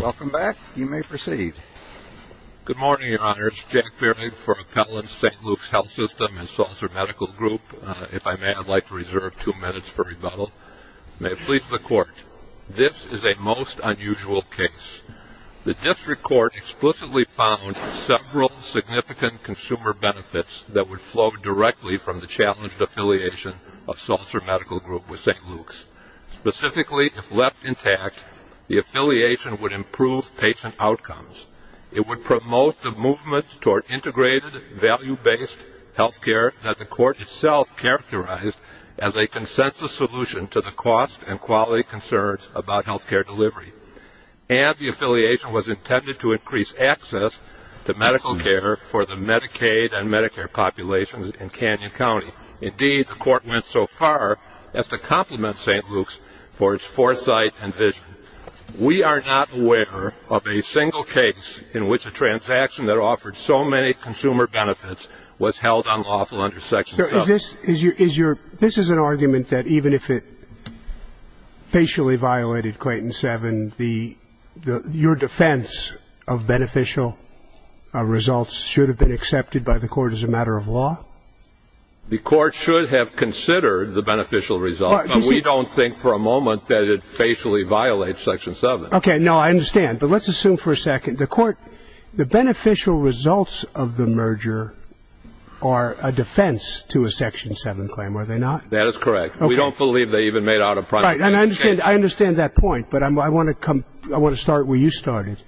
Welcome back. You may proceed. Good morning, Your Honors. Jack Fairling for appellants, St. Luke's Health System and Salzer Medical Group. If I may, I'd like to reserve two minutes for rebuttal. May it please the Court, this is a most unusual case. The district court explicitly found several significant consumer benefits that would flow directly from the challenged affiliation of Salzer Medical Group with St. Luke's. Specifically, if left intact, the affiliation would improve patient outcomes. It would promote the movement toward integrated value-based health care that the court itself characterized as a consensus solution to the cost and quality concerns about health care delivery. And the affiliation was intended to increase access to medical care for the Medicaid and Medicare populations in Canyon County. Indeed, the court went so far as to compliment St. Luke's for its foresight and vision. We are not aware of a single case in which a transaction that offered so many consumer benefits was held on lawful under section 7. This is an argument that even if it facially violated Clayton 7, your defense of beneficial results should have been accepted by the court as a matter of law? The court should have considered the beneficial results. We don't think for a moment that it facially violates section 7. Okay, no, I understand. But let's assume for a second. The court, the beneficial results of the merger are a defense to a section 7 claim, are they not? That is correct. We don't believe they even made out a primary case. I understand that point, but I want to start where you started.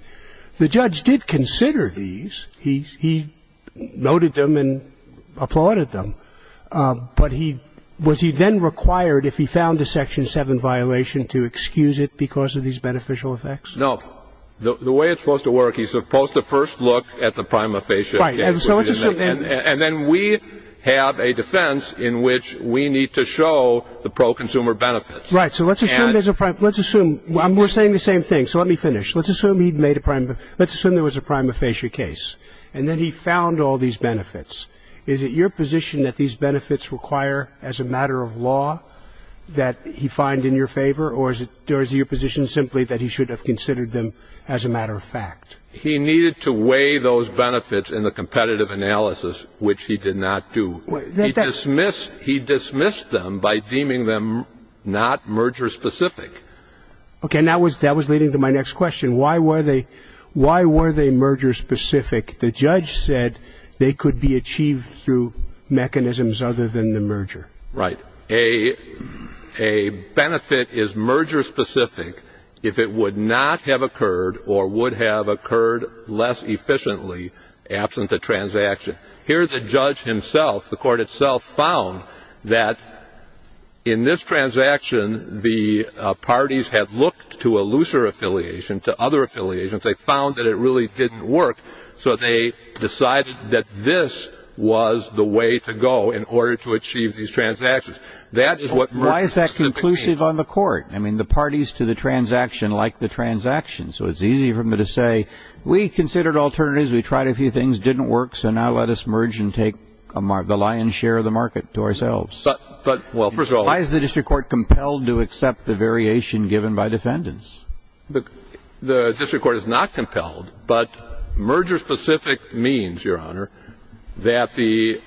The judge did consider these. He noted them and applauded them. But was he then required, if he found a section 7 violation, to excuse it because of these beneficial effects? No. The way it's supposed to work, he's supposed to first look at the prima facie. And then we have a defense in which we need to show the pro-consumer benefits. Right, so let's assume there's a prime. We're saying the same thing, so let me finish. Let's assume there was a prima facie case, and then he found all these benefits. Is it your position that these benefits require as a matter of law that he find in your favor, or is it your position simply that he should have considered them as a matter of fact? He needed to weigh those benefits in the competitive analysis, which he did not do. He dismissed them by deeming them not merger-specific. Okay, and that was leading to my next question. Why were they merger-specific? The judge said they could be achieved through mechanisms other than the merger. Right. A benefit is merger-specific if it would not have occurred or would have occurred less efficiently absent the transaction. Here the judge himself, the court itself, found that in this transaction the parties had looked to a looser affiliation, to other affiliations. They found that it really didn't work, so they decided that this was the way to go in order to achieve these transactions. Why is that conclusive on the court? I mean, the parties to the transaction like the transaction, so it's easy for them to say, we considered alternatives, we tried a few things, didn't work, so now let us merge and take the lion's share of the market to ourselves. Why is the district court compelled to accept the variation given by defendants? The district court is not compelled, but merger-specific means, Your Honor, that the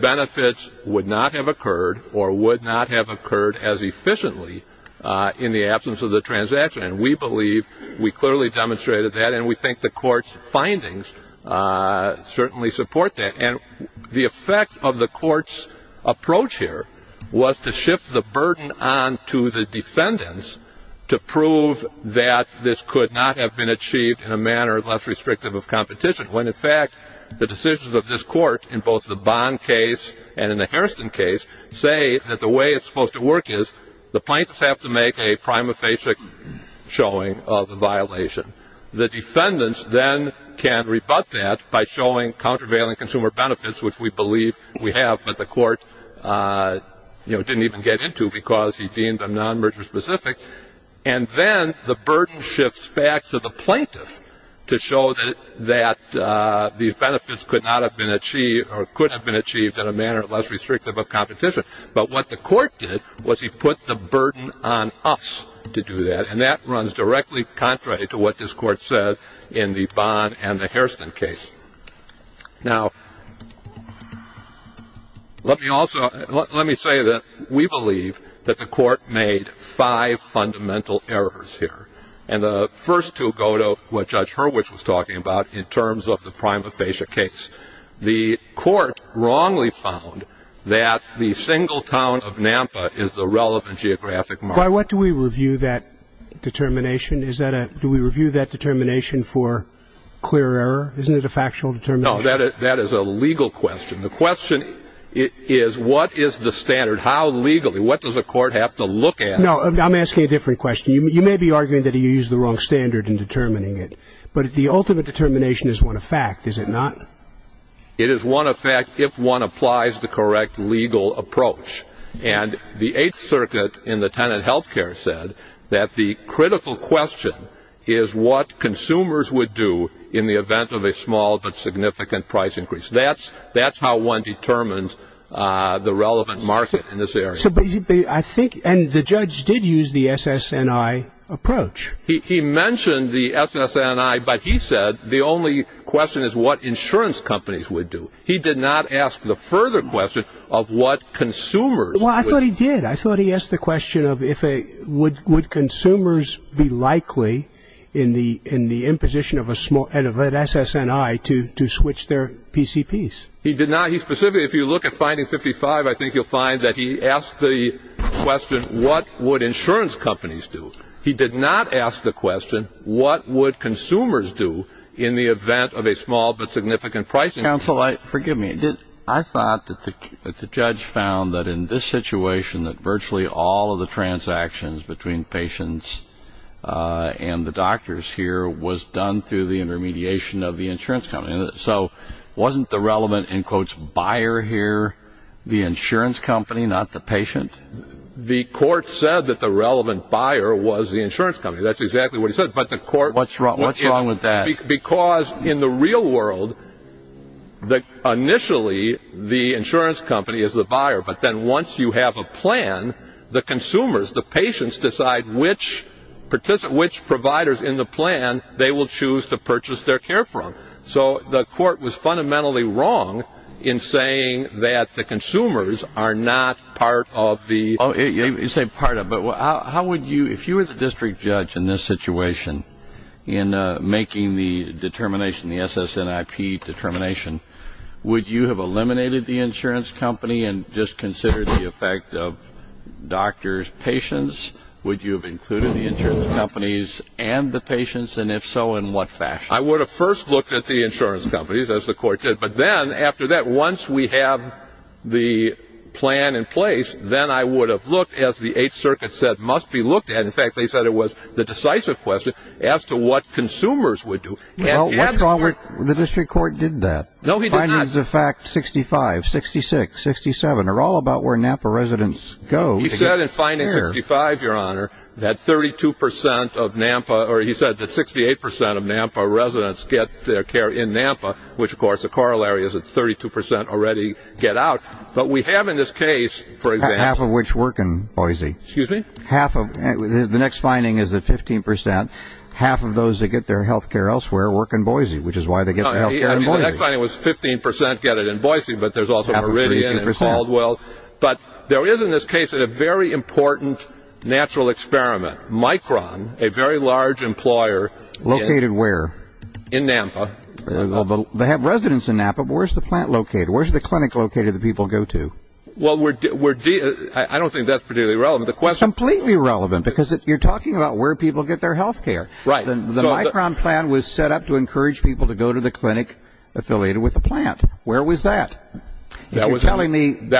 benefits would not have occurred or would not have occurred as efficiently in the absence of the transaction. And we believe we clearly demonstrated that, and we think the court's findings certainly support that. And the effect of the court's approach here was to shift the burden on to the defendants to prove that this could not have been achieved in a manner less restrictive of competition, when, in fact, the decisions of this court in both the Bond case and in the Harrison case say that the way it's supposed to work is the plaintiffs have to make a prima facie showing of the violation. The defendants then can rebut that by showing countervailing consumer benefits, which we believe we have, but the court didn't even get into because he deemed them non-merger-specific. And then the burden shifts back to the plaintiffs to show that these benefits could not have been achieved in a manner less restrictive of competition. But what the court did was he put the burden on us to do that, and that runs directly contrary to what this court said in the Bond and the Harrison case. Now, let me say that we believe that the court made five fundamental errors here, and the first two go to what Judge Hurwicz was talking about in terms of the prima facie case. The court wrongly found that the single town of Nampa is the relevant geographic marker. Why, what do we review that determination? Do we review that determination for clear error? Isn't it a factual determination? No, that is a legal question. The question is what is the standard? How legally? What does the court have to look at? No, I'm asking a different question. You may be arguing that he used the wrong standard in determining it, but the ultimate determination is one of fact, is it not? It is one of fact if one applies the correct legal approach. And the Eighth Circuit in the Tenant Healthcare said that the critical question is what consumers would do in the event of a small but significant price increase. That's how one determines the relevant market in this area. So basically I think, and the judge did use the SSNI approach. He mentioned the SSNI, but he said the only question is what insurance companies would do. He did not ask the further question of what consumers would do. Well, I thought he did. I thought he asked the question of would consumers be likely in the imposition of an SSNI to switch their PCPs. He did not. He specifically, if you look at finding 55, I think you'll find that he asked the question, what would insurance companies do? He did not ask the question what would consumers do in the event of a small but significant price increase. Counsel, forgive me. I thought that the judge found that in this situation that virtually all of the transactions between patients and the doctors here was done through the intermediation of the insurance company. So wasn't the relevant, in quotes, buyer here the insurance company, not the patient? The court said that the relevant buyer was the insurance company. That's exactly what he said. What's wrong with that? Because in the real world, initially the insurance company is the buyer. But then once you have a plan, the consumers, the patients decide which providers in the plan they will choose to purchase their care from. So the court was fundamentally wrong in saying that the consumers are not part of the You say part of, but how would you, if you were the district judge in this situation, in making the determination, the SSNIP determination, would you have eliminated the insurance company and just considered the effect of doctors, patients? Would you have included the insurance companies and the patients? And if so, in what fashion? I would have first looked at the insurance companies, as the court did. But then after that, once we have the plan in place, then I would have looked, as the 8th Circuit said, must be looked at. In fact, they said it was the decisive question as to what consumers would do. Well, the district court did that. No, he did not. Findings of fact 65, 66, 67 are all about where NAMPA residents go. He said in finding 55, Your Honor, that 32% of NAMPA, or he said that 68% of NAMPA residents get their care in NAMPA, which, of course, the corollary is that 32% already get out. But we have in this case, for example, Half of which work in Boise. Excuse me? The next finding is that 15%, half of those that get their health care elsewhere work in Boise, which is why they get their health care in Boise. The next finding was 15% get it in Boise, but there's also Meridian and Caldwell. But there is, in this case, a very important natural experiment. Micron, a very large employer. Located where? In NAMPA. They have residents in NAMPA, but where's the plant located? Where's the clinic located that people go to? Well, I don't think that's particularly relevant. Completely relevant, because you're talking about where people get their health care. The Micron plan was set up to encourage people to go to the clinic affiliated with the plant. Where was that? You're telling me they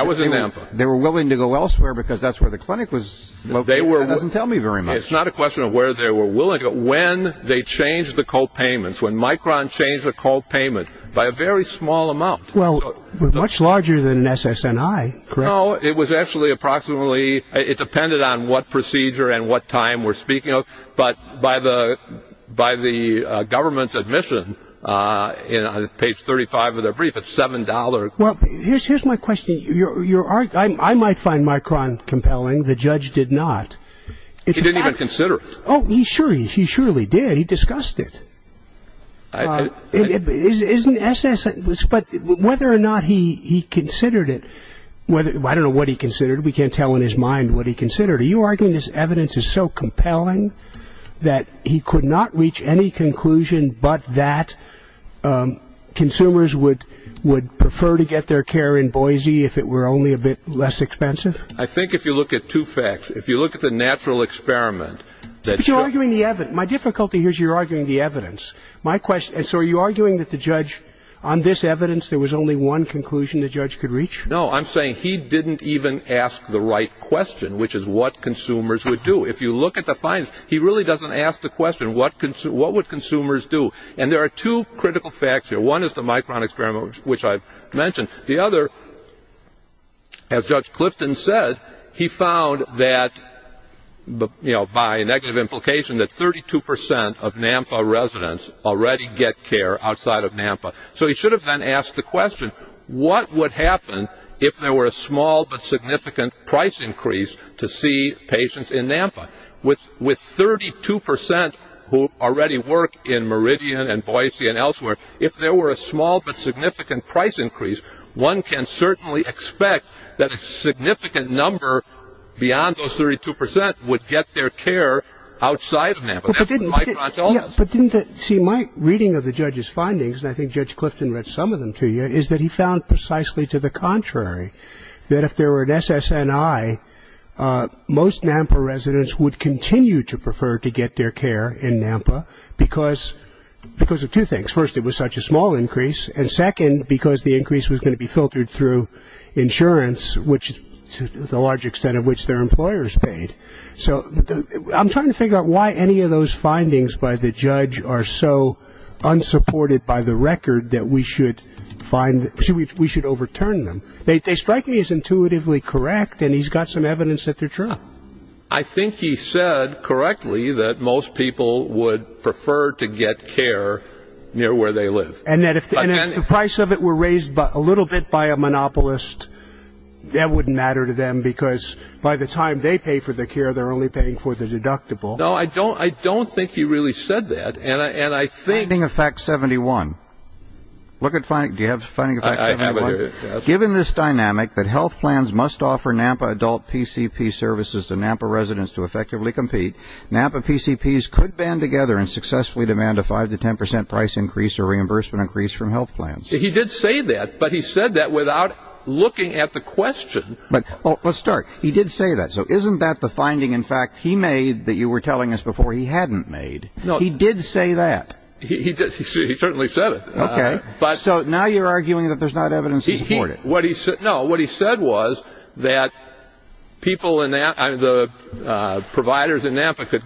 were willing to go elsewhere because that's where the clinic was located? That doesn't tell me very much. It's not a question of where they were willing to go. When they changed the co-payments, when Micron changed the co-payments, by a very small amount. Well, much larger than an SSNI, correct? No, it was actually approximately, it depended on what procedure and what time we're speaking of. But by the government's admission, on page 35 of their brief, it's $7. Well, here's my question. I might find Micron compelling. The judge did not. He didn't even consider it. Oh, he surely did. He discussed it. But whether or not he considered it, I don't know what he considered. We can't tell in his mind what he considered. Are you arguing this evidence is so compelling that he could not reach any conclusion but that consumers would prefer to get their care in Boise if it were only a bit less expensive? I think if you look at two facts, if you look at the natural experiment. But you're arguing the evidence. My difficulty here is you're arguing the evidence. So are you arguing that the judge, on this evidence, there was only one conclusion the judge could reach? No, I'm saying he didn't even ask the right question, which is what consumers would do. If you look at the findings, he really doesn't ask the question, what would consumers do? And there are two critical facts here. One is the Micron experiment, which I mentioned. The other, as Judge Clifton said, he found that, by negative implication, that 32 percent of NAMPA residents already get care outside of NAMPA. So he should have then asked the question, what would happen if there were a small but significant price increase to see patients in NAMPA? With 32 percent who already work in Meridian and Boise and elsewhere, if there were a small but significant price increase, one can certainly expect that a significant number beyond those 32 percent would get their care outside of NAMPA. But didn't that see my reading of the judge's findings, and I think Judge Clifton read some of them to you, is that he found precisely to the contrary, that if there were an SSNI, most NAMPA residents would continue to prefer to get their care in NAMPA because of two things. First, it was such a small increase. And second, because the increase was going to be filtered through insurance, which is the large extent of which their employer is paid. So I'm trying to figure out why any of those findings by the judge are so unsupported by the record that we should overturn them. They strike me as intuitively correct, and he's got some evidence that they're true. I think he said correctly that most people would prefer to get care near where they live. And that if the price of it were raised a little bit by a monopolist, that wouldn't matter to them because by the time they pay for the care, they're only paying for the deductible. No, I don't think he really said that. Finding of fact 71. Do you have finding of fact 71? I have it right here. Given this dynamic that health plans must offer NAMPA adult PCP services to NAMPA residents to effectively compete, NAMPA PCPs could band together and successfully demand a 5% to 10% price increase or reimbursement increase from health plans. He did say that, but he said that without looking at the question. Let's start. He did say that. So isn't that the finding, in fact, he made that you were telling us before he hadn't made? No. He did say that. He certainly said it. Okay. So now you're arguing that there's not evidence to support it. No, what he said was that the providers in NAMPA could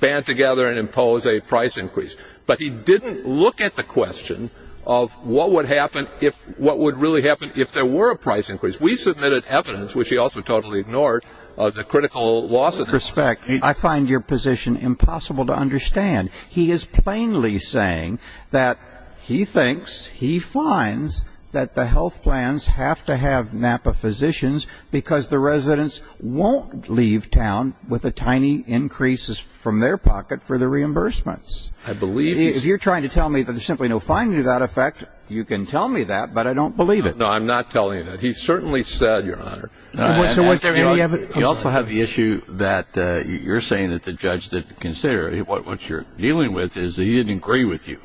band together and impose a price increase. But he didn't look at the question of what would really happen if there were a price increase. We submitted evidence, which he also totally ignored, of the critical loss of NAMPA. With all due respect, I find your position impossible to understand. He is plainly saying that he thinks, he finds, that the health plans have to have NAMPA physicians because the residents won't leave town with the tiny increases from their pocket for the reimbursements. I believe he is. If you're trying to tell me that there's simply no finding to that effect, you can tell me that, but I don't believe it. No, I'm not telling you that. He certainly said, Your Honor. You also have the issue that you're saying that the judge didn't consider it. What you're dealing with is that he didn't agree with you,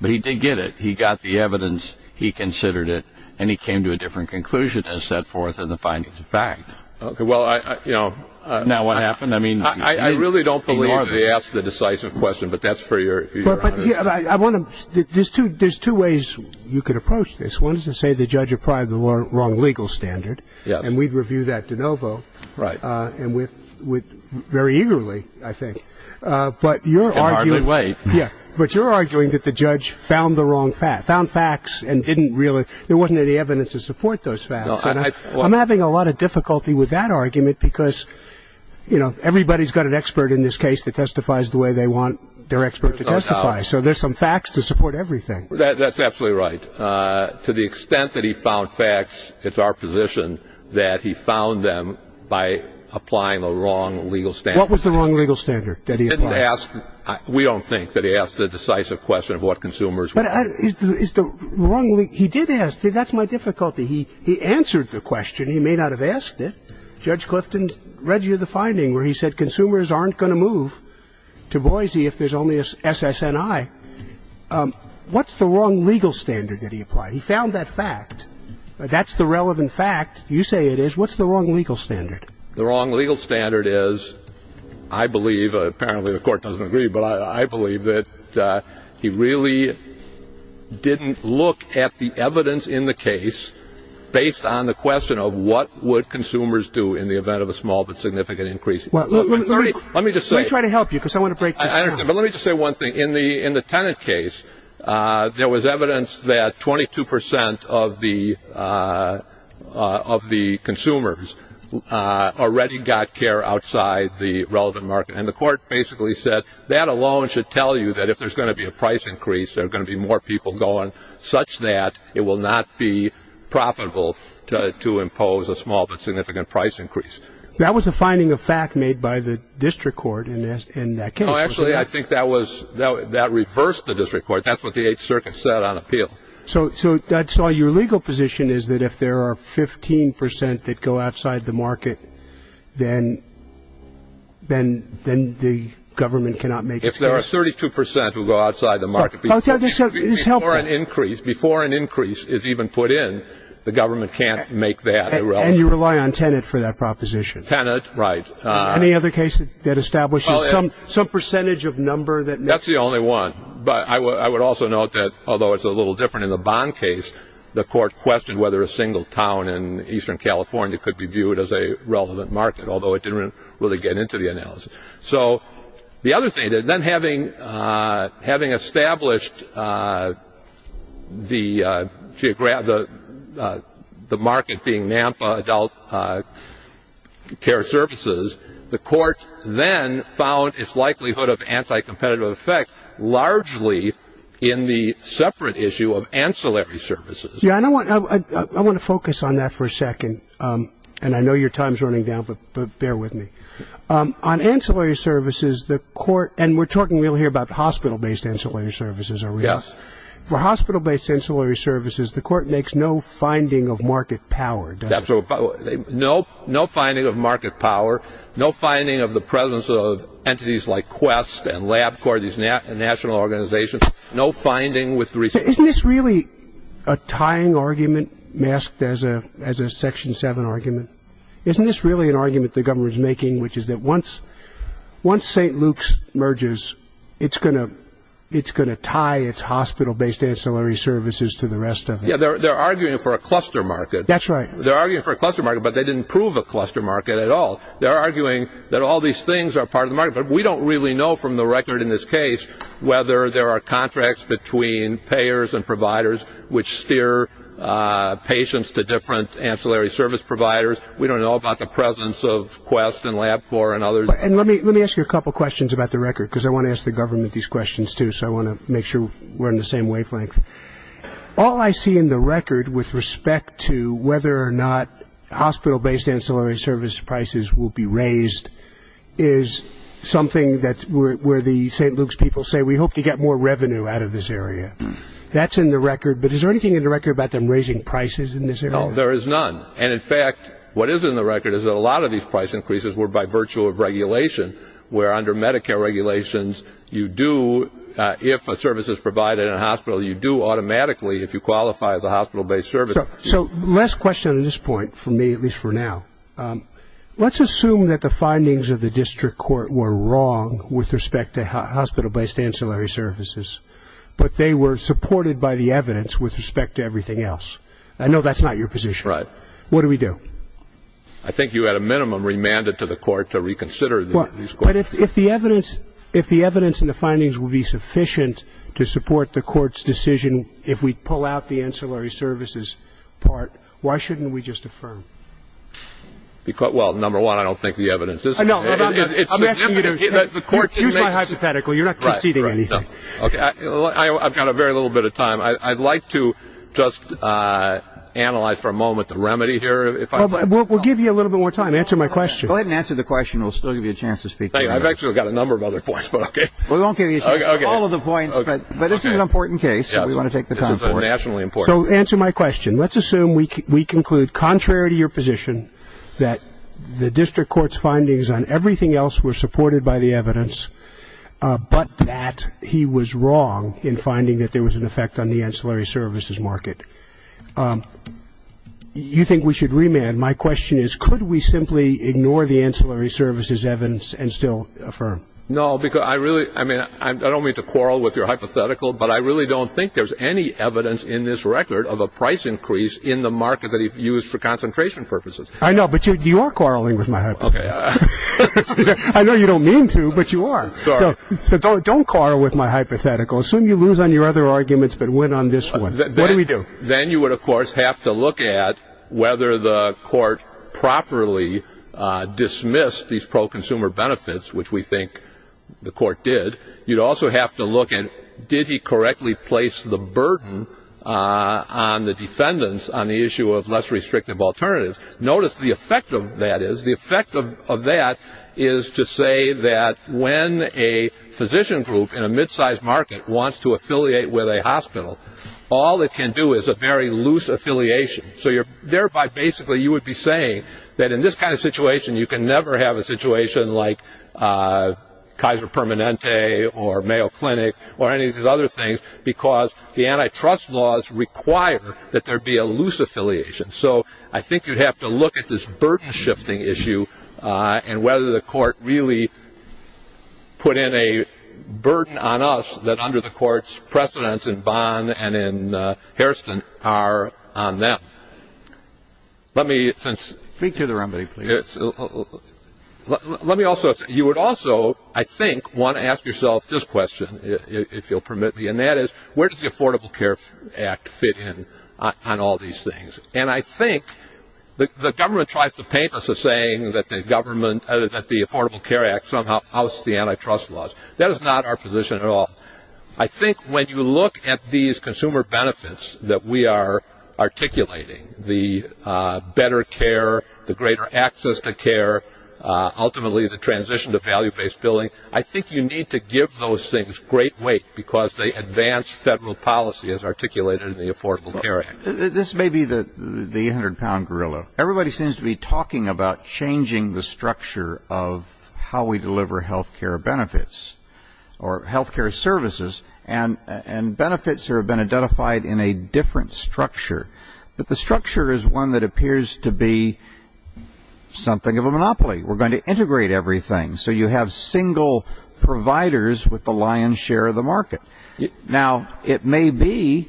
but he did get it. He got the evidence, he considered it, and he came to a different conclusion than set forth in the findings of fact. Okay. Now what happened? I really don't believe he asked the decisive question, but that's for Your Honor. There's two ways you could approach this. One is to say the judge applied the wrong legal standard. Yes. And we'd review that de novo. Right. And very eagerly, I think. But you're arguing that the judge found the wrong facts. There wasn't any evidence to support those facts. I'm having a lot of difficulty with that argument because, you know, everybody's got an expert in this case that testifies the way they want their expert to testify, so there's some facts to support everything. That's absolutely right. To the extent that he found facts, it's our position that he found them by applying the wrong legal standard. What was the wrong legal standard that he applied? We don't think that he asked the decisive question of what consumers want. He did ask. See, that's my difficulty. He answered the question. He may not have asked it. Judge Clifton read you the finding where he said consumers aren't going to move to Boise if there's only SSNI. What's the wrong legal standard that he applied? He found that fact. That's the relevant fact. You say it is. What's the wrong legal standard? The wrong legal standard is, I believe, apparently the court doesn't agree, but I believe that he really didn't look at the evidence in the case based on the question of what would consumers do in the event of a small but significant increase. Let me just say. Let me try to help you because I want to break this down. Let me just say one thing. In the tenant case, there was evidence that 22% of the consumers already got care outside the relevant market, and the court basically said that alone should tell you that if there's going to be a price increase, there are going to be more people going such that it will not be profitable to impose a small but significant price increase. That was a finding of fact made by the district court in that case. Actually, I think that reversed the district court. That's what the 8th Circuit said on appeal. So that's why your legal position is that if there are 15% that go outside the market, then the government cannot make the care. If there are 32% who go outside the market before an increase is even put in, the government can't make that. And you rely on tenant for that proposition. Tenant, right. Any other cases that establish some percentage of number? That's the only one. But I would also note that although it's a little different in the bond case, the court questioned whether a single town in eastern California could be viewed as a relevant market, although it didn't really get into the analysis. So the other thing, then having established the market being NAMPA adult care services, the court then found its likelihood of anti-competitive effect largely in the separate issue of ancillary services. Yeah, I want to focus on that for a second. And I know your time is running down, but bear with me. On ancillary services, the court, and we're talking here about hospital-based ancillary services, are we not? Yes. For hospital-based ancillary services, the court makes no finding of market power, does it? No finding of market power, no finding of the presence of entities like Quest and LabCorp, these national organizations, no finding with resources. Isn't this really a tying argument masked as a Section 7 argument? Isn't this really an argument the government is making, which is that once St. Luke's merges, it's going to tie its hospital-based ancillary services to the rest of it? Yeah, they're arguing for a cluster market. That's right. They're arguing for a cluster market, but they didn't prove a cluster market at all. They're arguing that all these things are part of the market, but we don't really know from the record in this case whether there are contracts between payers and providers which steer patients to different ancillary service providers. We don't know about the presence of Quest and LabCorp and others. And let me ask you a couple of questions about the record, because I want to ask the government these questions too, so I want to make sure we're in the same wavelength. All I see in the record with respect to whether or not hospital-based ancillary service prices will be raised is something where the St. Luke's people say, we hope to get more revenue out of this area. That's in the record. But is there anything in the record about them raising prices in this area? No, there is none. And, in fact, what is in the record is that a lot of these price increases were by virtue of regulation, where under Medicare regulations you do, if a service is provided in a hospital, you do automatically if you qualify as a hospital-based service. So last question at this point, for me at least for now. Let's assume that the findings of the district court were wrong with respect to hospital-based ancillary services, but they were supported by the evidence with respect to everything else. I know that's not your position. Right. What do we do? I think you had a minimum remanded to the court to reconsider these questions. But if the evidence and the findings will be sufficient to support the court's decision if we pull out the ancillary services part, why shouldn't we just affirm? Well, number one, I don't think the evidence is sufficient. You're not hypothetical. You're not conceding anything. I've got a very little bit of time. I'd like to just analyze for a moment the remedy here. We'll give you a little bit more time. Answer my question. Go ahead and answer the question. We'll still give you a chance to speak. I've actually got a number of other points, but okay. We won't give you all of the points, but this is an important case that we want to take the time for. It's nationally important. So answer my question. Let's assume we conclude, contrary to your position, that the district court's findings on everything else were supported by the evidence, but that he was wrong in finding that there was an effect on the ancillary services market. You think we should remand. My question is, could we simply ignore the ancillary services evidence and still affirm? No, because I really don't mean to quarrel with your hypothetical, but I really don't think there's any evidence in this record of a price increase in the market that he used for concentration purposes. I know, but you are quarreling with my hypothetical. I know you don't mean to, but you are. So don't quarrel with my hypothetical. Assume you lose on your other arguments but win on this one. What do we do? Then you would, of course, have to look at whether the court properly dismissed these pro-consumer benefits, which we think the court did. You'd also have to look at did he correctly place the burden on the defendants on the issue of less restrictive alternatives. Notice the effect of that is. The effect of that is to say that when a physician group in a midsize market wants to affiliate with a hospital, all it can do is a very loose affiliation. So thereby, basically, you would be saying that in this kind of situation, you can never have a situation like Kaiser Permanente or Mayo Clinic or any of these other things because the antitrust laws require that there be a loose affiliation. So I think you'd have to look at this burden shifting issue and whether the court really put in a burden on us that under the court's precedence in Bond and in Hairston are on them. Let me speak to the remedy. You would also, I think, want to ask yourself this question, if you'll permit me, and that is where does the Affordable Care Act fit in on all these things? And I think the government tries to paint us as saying that the Affordable Care Act somehow houses the antitrust laws. That is not our position at all. I think when you look at these consumer benefits that we are articulating, the better care, the greater access to care, ultimately the transition to value-based billing, I think you need to give those things great weight because they advance federal policy as articulated in the Affordable Care Act. This may be the 800-pound gorilla. Everybody seems to be talking about changing the structure of how we deliver health care benefits or health care services and benefits that have been identified in a different structure. But the structure is one that appears to be something of a monopoly. We're going to integrate everything. So you have single providers with the lion's share of the market. Now, it may be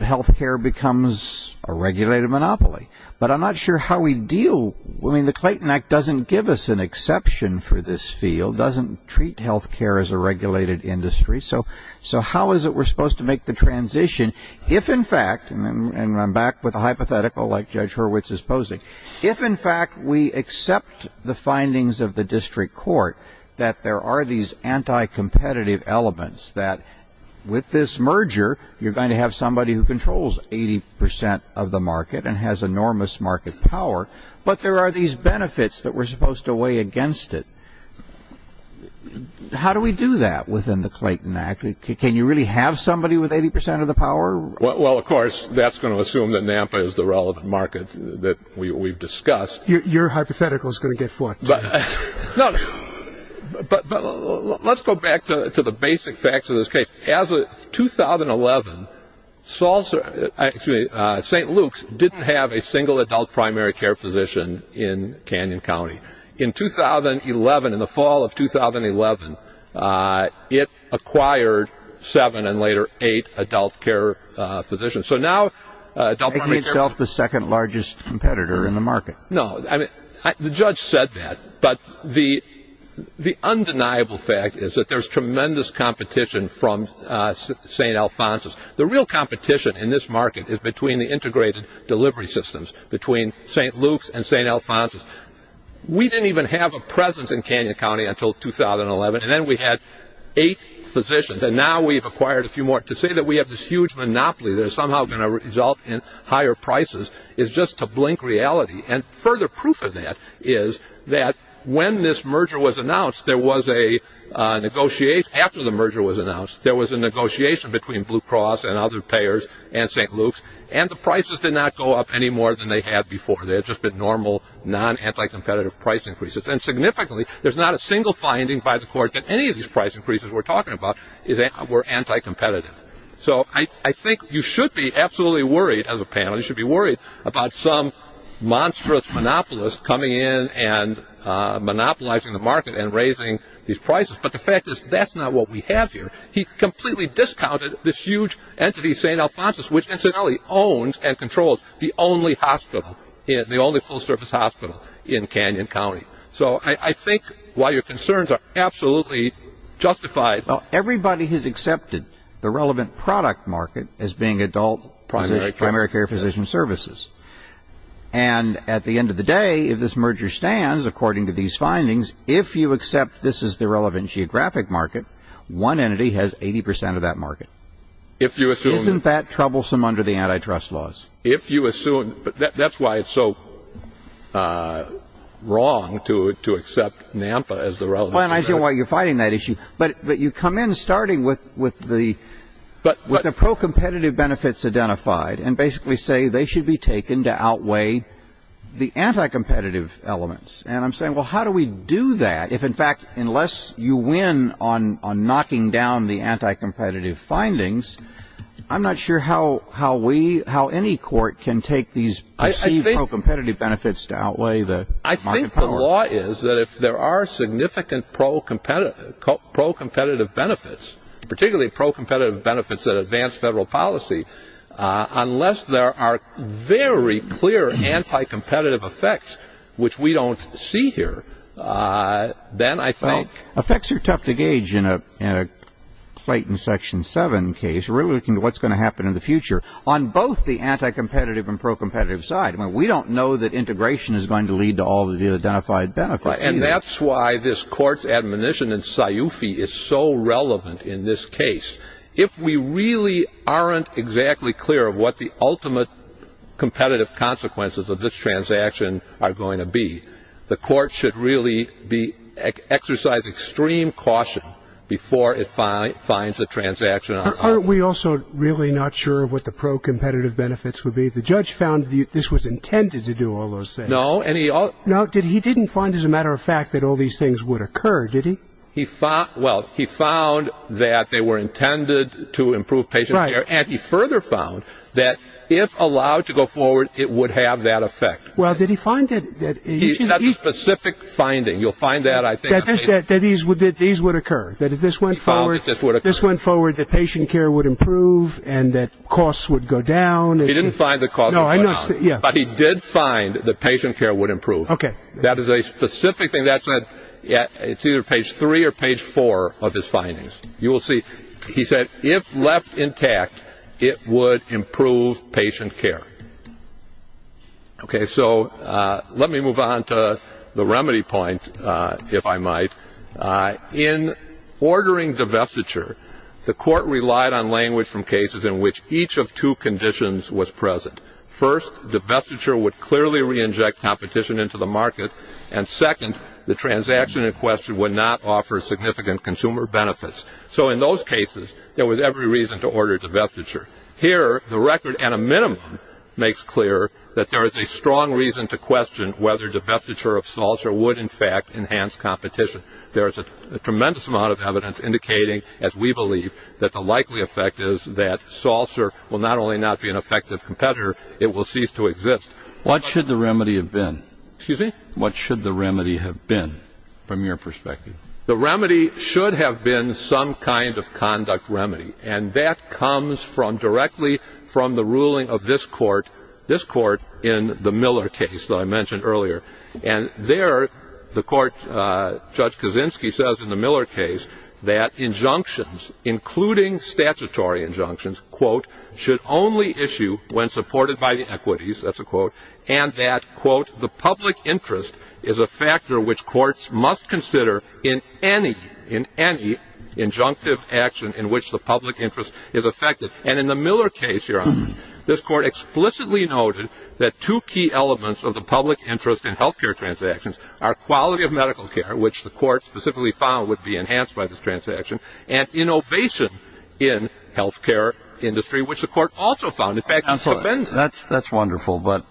health care becomes a regulated monopoly, but I'm not sure how we deal. I mean, the Clayton Act doesn't give us an exception for this field, doesn't treat health care as a regulated industry. So how is it we're supposed to make the transition if, in fact, and I'm back with a hypothetical like Judge Hurwitz is posing, if, in fact, we accept the findings of the district court that there are these anti-competitive elements that with this merger you're going to have somebody who controls 80% of the market and has enormous market power, but there are these benefits that we're supposed to weigh against it. How do we do that within the Clayton Act? Can you really have somebody with 80% of the power? Well, of course, that's going to assume that NAMPA is the relevant market that we've discussed. Your hypothetical is going to get fought. But let's go back to the basic facts of this case. As of 2011, St. Luke's didn't have a single adult primary care physician in Canyon County. In 2011, in the fall of 2011, it acquired seven and later eight adult care physicians. So now adult primary care. Making itself the second largest competitor in the market. No, the judge said that, but the undeniable fact is that there's tremendous competition from St. Alphonsus. The real competition in this market is between the integrated delivery systems, between St. Luke's and St. Alphonsus. We didn't even have a presence in Canyon County until 2011, and then we had eight physicians, and now we've acquired a few more. To say that we have this huge monopoly that is somehow going to result in higher prices is just a blink reality. And further proof of that is that when this merger was announced, there was a negotiation, after the merger was announced, there was a negotiation between Blue Cross and other payers and St. Luke's, and the prices did not go up any more than they had before. They had just been normal, non-anti-competitive price increases. And significantly, there's not a single finding by the court that any of these price increases we're talking about were anti-competitive. So I think you should be absolutely worried as a panel, you should be worried about some monstrous monopolist coming in and monopolizing the market and raising these prices. But the fact is that's not what we have here. He completely discounted this huge entity, St. Alphonsus, which incidentally owns and controls the only hospital, the only full-service hospital in Canyon County. So I think while your concerns are absolutely justified. Well, everybody has accepted the relevant product market as being adult primary care physician services. And at the end of the day, if this merger stands, according to these findings, if you accept this is the relevant geographic market, one entity has 80% of that market. Isn't that troublesome under the antitrust laws? That's why it's so wrong to accept NAMPA as the relevant market. I see why you're fighting that issue. But you come in starting with the pro-competitive benefits identified and basically say they should be taken to outweigh the anti-competitive elements. And I'm saying, well, how do we do that if, in fact, unless you win on knocking down the anti-competitive findings, I'm not sure how any court can take these pro-competitive benefits to outweigh the monopolist. I think the law is that if there are significant pro-competitive benefits, particularly pro-competitive benefits that advance federal policy, unless there are very clear anti-competitive effects, which we don't see here, then I think. Well, effects are tough to gauge in a fight in Section 7 case. We're looking at what's going to happen in the future on both the anti-competitive and pro-competitive side. We don't know that integration is going to lead to all of the identified benefits. And that's why this court's admonition in SIUFI is so relevant in this case. If we really aren't exactly clear of what the ultimate competitive consequences of this transaction are going to be, the court should really exercise extreme caution before it finds a transaction. Aren't we also really not sure of what the pro-competitive benefits would be? The judge found this was intended to do all those things. No. He didn't find, as a matter of fact, that all these things would occur, did he? Well, he found that they were intended to improve patient care, and he further found that if allowed to go forward, it would have that effect. Well, did he find that? He had a specific finding. You'll find that, I think. That these would occur, that if this went forward, that patient care would improve and that costs would go down. He didn't find that costs would go down. No, I know. But he did find that patient care would improve. Okay. That is a specific thing. It's either page three or page four of his findings. You will see he said, if left intact, it would improve patient care. Okay, so let me move on to the remedy point, if I might. In ordering the vestiture, the court relied on language from cases in which each of two conditions was present. First, the vestiture would clearly re-inject competition into the market, and second, the transaction in question would not offer significant consumer benefits. So in those cases, there was every reason to order the vestiture. Here, the record, at a minimum, makes clear that there is a strong reason to question whether the vestiture of Salser would, in fact, enhance competition. There is a tremendous amount of evidence indicating, as we believe, that the likely effect is that Salser will not only not be an effective competitor, it will cease to exist. What should the remedy have been? Excuse me? What should the remedy have been, from your perspective? The remedy should have been some kind of conduct remedy, and that comes directly from the ruling of this court in the Miller case that I mentioned earlier. And there, the court, Judge Kaczynski says in the Miller case, that injunctions, including statutory injunctions, quote, should only issue when supported by the equities, that's a quote, and that, quote, the public interest is a factor which courts must consider in any, in any injunctive action in which the public interest is affected. And in the Miller case, Your Honor, this court explicitly noted that two key elements of the public interest in health care transactions are quality of medical care, which the court specifically found would be enhanced by this transaction, and innovation in health care industry, which the court also found, in fact, That's wonderful, but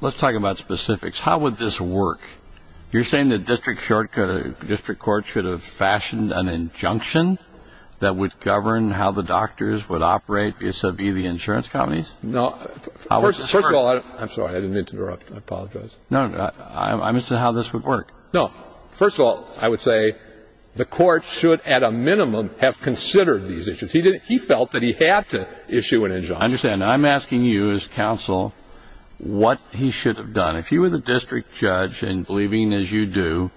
let's talk about specifics. How would this work? You're saying the district court should have fashioned an injunction that would govern how the doctors would operate vis-a-vis the insurance companies? No. First of all, I'm sorry, I didn't mean to interrupt. I apologize. No, I'm asking how this would work. No. First of all, I would say the court should, at a minimum, have considered these issues. He felt that he had to issue an injunction. I understand. I'm asking you as counsel what he should have done. If you were the district judge, and believing as you do,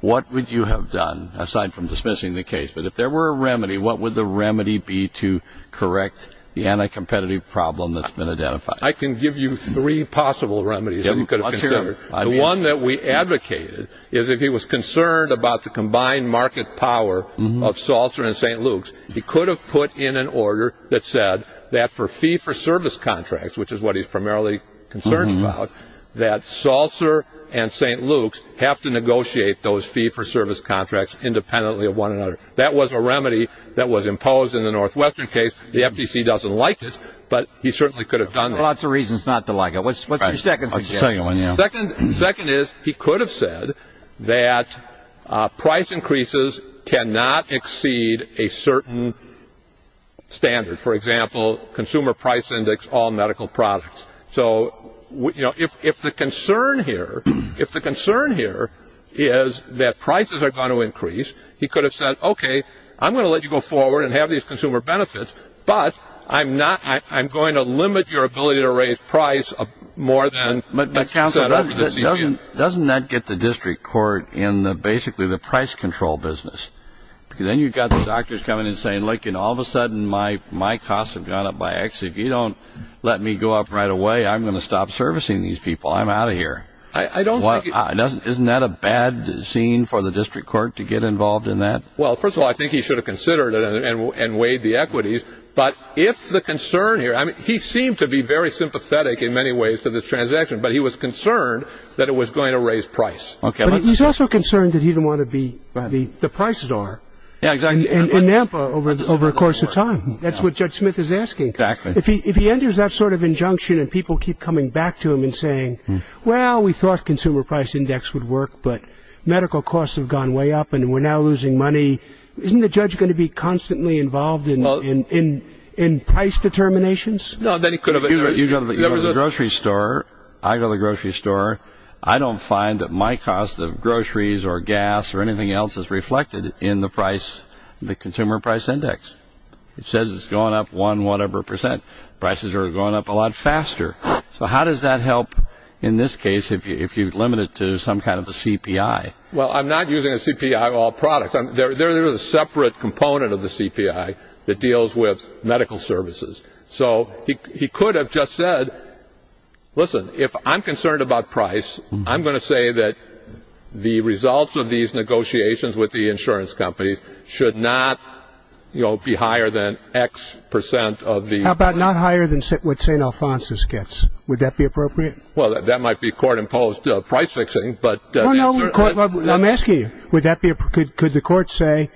what would you have done, aside from dismissing the case? But if there were a remedy, what would the remedy be to correct the anti-competitive problem that's been identified? I can give you three possible remedies that he could have considered. The one that we advocated is if he was concerned about the combined market power of Saltzer and St. Luke's, he could have put in an order that said that for fee-for-service contracts, which is what he's primarily concerned about, that Saltzer and St. Luke's have to negotiate those fee-for-service contracts independently of one another. That was a remedy that was imposed in the Northwestern case. The FTC doesn't like it, but he certainly could have done that. Lots of reasons not to like it. What's the second one? The second is he could have said that price increases cannot exceed a certain standard. For example, consumer price index all medical products. So if the concern here is that prices are going to increase, he could have said, okay, I'm going to let you go forward and have these consumer benefits, but I'm going to limit your ability to raise price more than set up. Doesn't that get the district court in basically the price control business? Because then you've got the doctors coming and saying, look, all of a sudden my costs have gone up by X. If you don't let me go up right away, I'm going to stop servicing these people. I'm out of here. Isn't that a bad scene for the district court to get involved in that? Well, first of all, I think he should have considered it and weighed the equities. But if the concern here, he seemed to be very sympathetic in many ways to this transaction, but he was concerned that it was going to raise price. He's also concerned that he didn't want to be where the prices are in Nampa over the course of time. That's what Judge Smith is asking. If he enters that sort of injunction and people keep coming back to him and saying, well, we thought consumer price index would work, but medical costs have gone way up and we're now losing money, isn't the judge going to be constantly involved in price determinations? You go to the grocery store. I go to the grocery store. I don't find that my cost of groceries or gas or anything else is reflected in the consumer price index. It says it's going up one whatever percent. Prices are going up a lot faster. So how does that help in this case if you limit it to some kind of a CPI? Well, I'm not using a CPI of all products. There is a separate component of the CPI that deals with medical services. So he could have just said, listen, if I'm concerned about price, I'm going to say that the results of these negotiations with the insurance companies should not be higher than X percent. How about not higher than what St. Alphonsus gets? Would that be appropriate? Well, that might be court-imposed price fixing. No, no, I'm asking you, could the court say,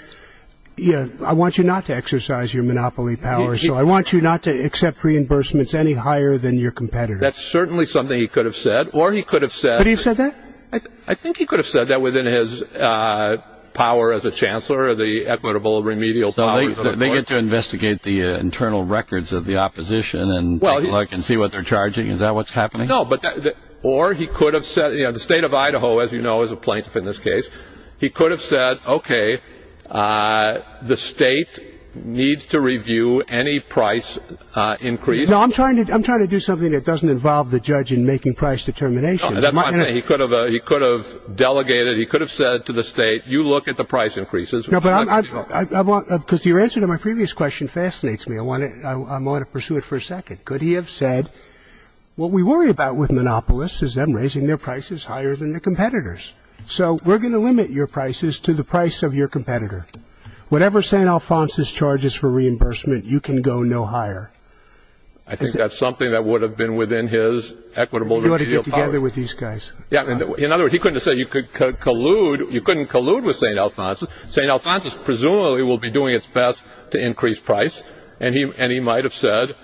I want you not to exercise your monopoly power, so I want you not to accept reimbursements any higher than your competitors? That's certainly something he could have said. But he said that? I think he could have said that within his power as a chancellor, the equitable remedial power of the court. They get to investigate the internal records of the opposition and see what they're charging. Is that what's happening? No. Or he could have said, you know, the state of Idaho, as you know, is a plaintiff in this case. He could have said, okay, the state needs to review any price increase. No, I'm trying to do something that doesn't involve the judge in making price determination. He could have delegated, he could have said to the state, you look at the price increases. Because your answer to my previous question fascinates me. I want to pursue it for a second. Could he have said, what we worry about with monopolists is them raising their prices higher than their competitors. So we're going to limit your prices to the price of your competitor. Whatever St. Alphonsus charges for reimbursement, you can go no higher. I think that's something that would have been within his equitable remedial power. You want to get together with these guys. In other words, he couldn't have said you could collude, you couldn't collude with St. Alphonsus. St. Alphonsus presumably will be doing its best to increase price. And he might have said,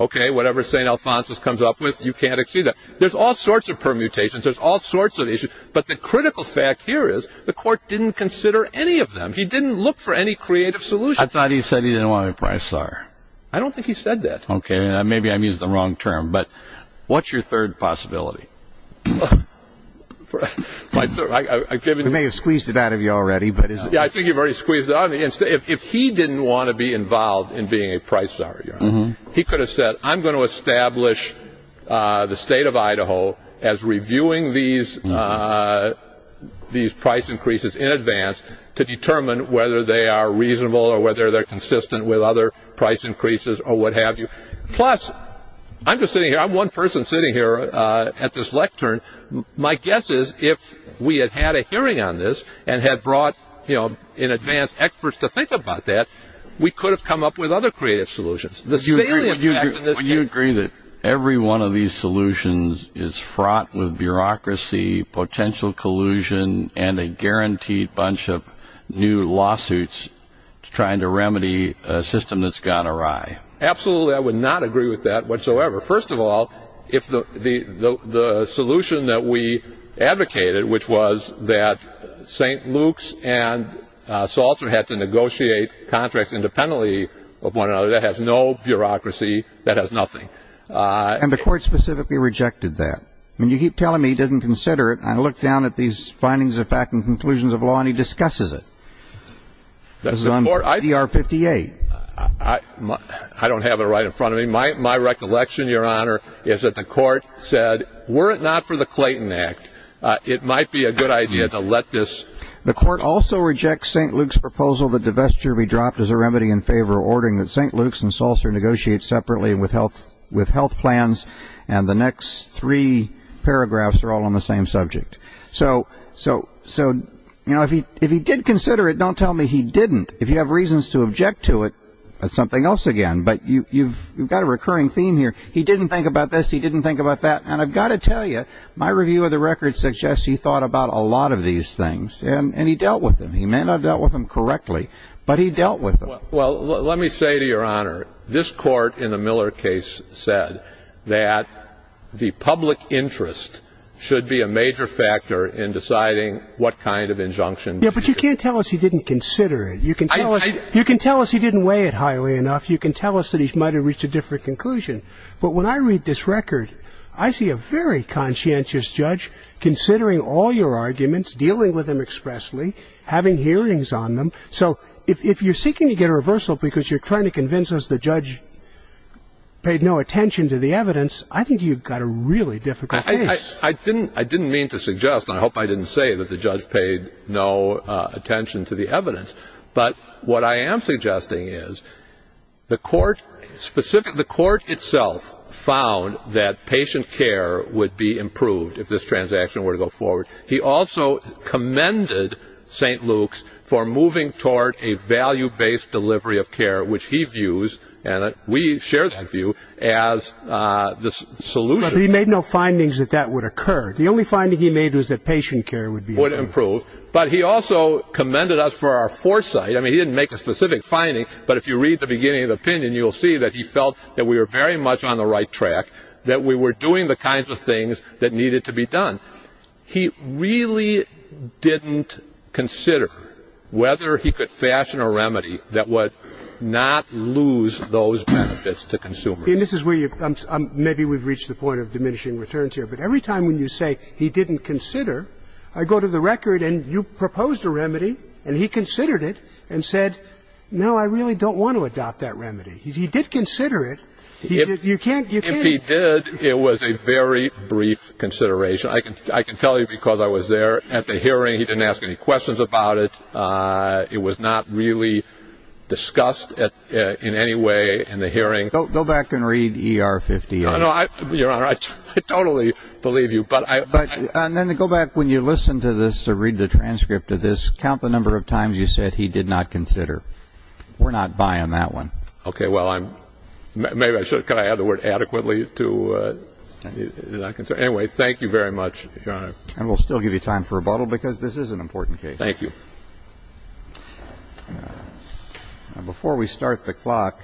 okay, whatever St. Alphonsus comes up with, you can't exceed that. There's all sorts of permutations. There's all sorts of issues. But the critical fact here is the court didn't consider any of them. He didn't look for any creative solution. I thought he said he didn't want to increase price higher. I don't think he said that. Okay, maybe I used the wrong term. But what's your third possibility? I may have squeezed it out of you already. Yeah, I think you've already squeezed it out of me. If he didn't want to be involved in being a price higher, he could have said, I'm going to establish the state of Idaho as reviewing these price increases in advance to determine whether they are reasonable or whether they're consistent with other price increases or what have you. Plus, I'm just sitting here. I'm one person sitting here at this lectern. My guess is if we had had a hearing on this and had brought in advance experts to think about that, we could have come up with other creative solutions. Do you agree that every one of these solutions is fraught with bureaucracy, potential collusion, and a guaranteed bunch of new lawsuits trying to remedy a system that's gone awry? Absolutely, I would not agree with that whatsoever. First of all, the solution that we advocated, which was that St. Luke's and Salter had to negotiate contracts independently of one another, that has no bureaucracy, that has nothing. And the court specifically rejected that? I mean, you keep telling me he didn't consider it, and I look down at these findings of fact and conclusions of law, and he discusses it. This is on CR 58. I don't have it right in front of me. My recollection, Your Honor, is that the court said, were it not for the Clayton Act, it might be a good idea to let this. The court also rejects St. Luke's proposal that divestiture be dropped as a remedy in favor of ordering that St. Luke's and Salter negotiate separately with health plans, and the next three paragraphs are all on the same subject. So, you know, if he did consider it, don't tell me he didn't. If you have reasons to object to it, that's something else again. But you've got a recurring theme here. He didn't think about this, he didn't think about that. And I've got to tell you, my review of the record suggests he thought about a lot of these things, and he dealt with them. He may not have dealt with them correctly, but he dealt with them. Well, let me say to Your Honor, this court in the Miller case said that the public interest should be a major factor in deciding what kind of injunction. Yeah, but you can't tell us he didn't consider it. You can tell us he didn't weigh it highly enough. You can tell us that he might have reached a different conclusion. But when I read this record, I see a very conscientious judge considering all your arguments, dealing with them expressly, having hearings on them. So if you're seeking to get a reversal because you're trying to convince us the judge paid no attention to the evidence, I think you've got a really difficult case. I didn't mean to suggest, and I hope I didn't say that the judge paid no attention to the evidence. But what I am suggesting is the court itself found that patient care would be improved if this transaction were to go forward. He also commended St. Luke's for moving toward a value-based delivery of care, which he views, and we share that view, as the solution. But he made no findings that that would occur. The only finding he made was that patient care would be improved. But he also commended us for our foresight. I mean, he didn't make a specific finding, but if you read the beginning of the opinion, you'll see that he felt that we were very much on the right track, that we were doing the kinds of things that needed to be done. He really didn't consider whether he could fashion a remedy that would not lose those benefits to consumers. And this is where maybe we've reached the point of diminishing returns here. But every time when you say he didn't consider, I go to the record and you proposed a remedy, and he considered it and said, no, I really don't want to adopt that remedy. He did consider it. If he did, it was a very brief consideration. I can tell you because I was there at the hearing, he didn't ask any questions about it. It was not really discussed in any way in the hearing. Go back and read ER 50. I totally believe you. And then go back, when you listen to this or read the transcript of this, count the number of times you said he did not consider. We're not buy on that one. Okay, well, maybe I should have kind of added the word adequately to not consider. Anyway, thank you very much, Your Honor. And we'll still give you time for rebuttal because this is an important case. Thank you. Before we start the clock,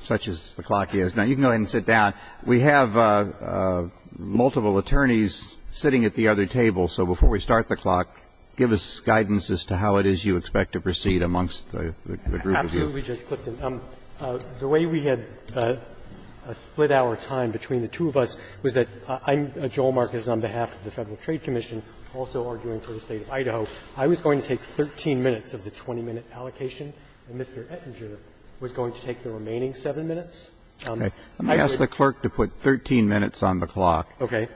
such as the clock is, now you can go ahead and sit down. We have multiple attorneys sitting at the other table. So before we start the clock, give us guidance as to how it is you expect to proceed amongst the group of you. Absolutely, Judge Clifton. The way we had split our time between the two of us was that I'm Joel Marcus on behalf of the Federal Trade Commission, also arguing for the State of Idaho. I was going to take 13 minutes of the 20-minute allocation, and Mr. Ettinger was going to take the remaining seven minutes. Okay. I'm going to ask the clerk to put 13 minutes on the clock. Okay.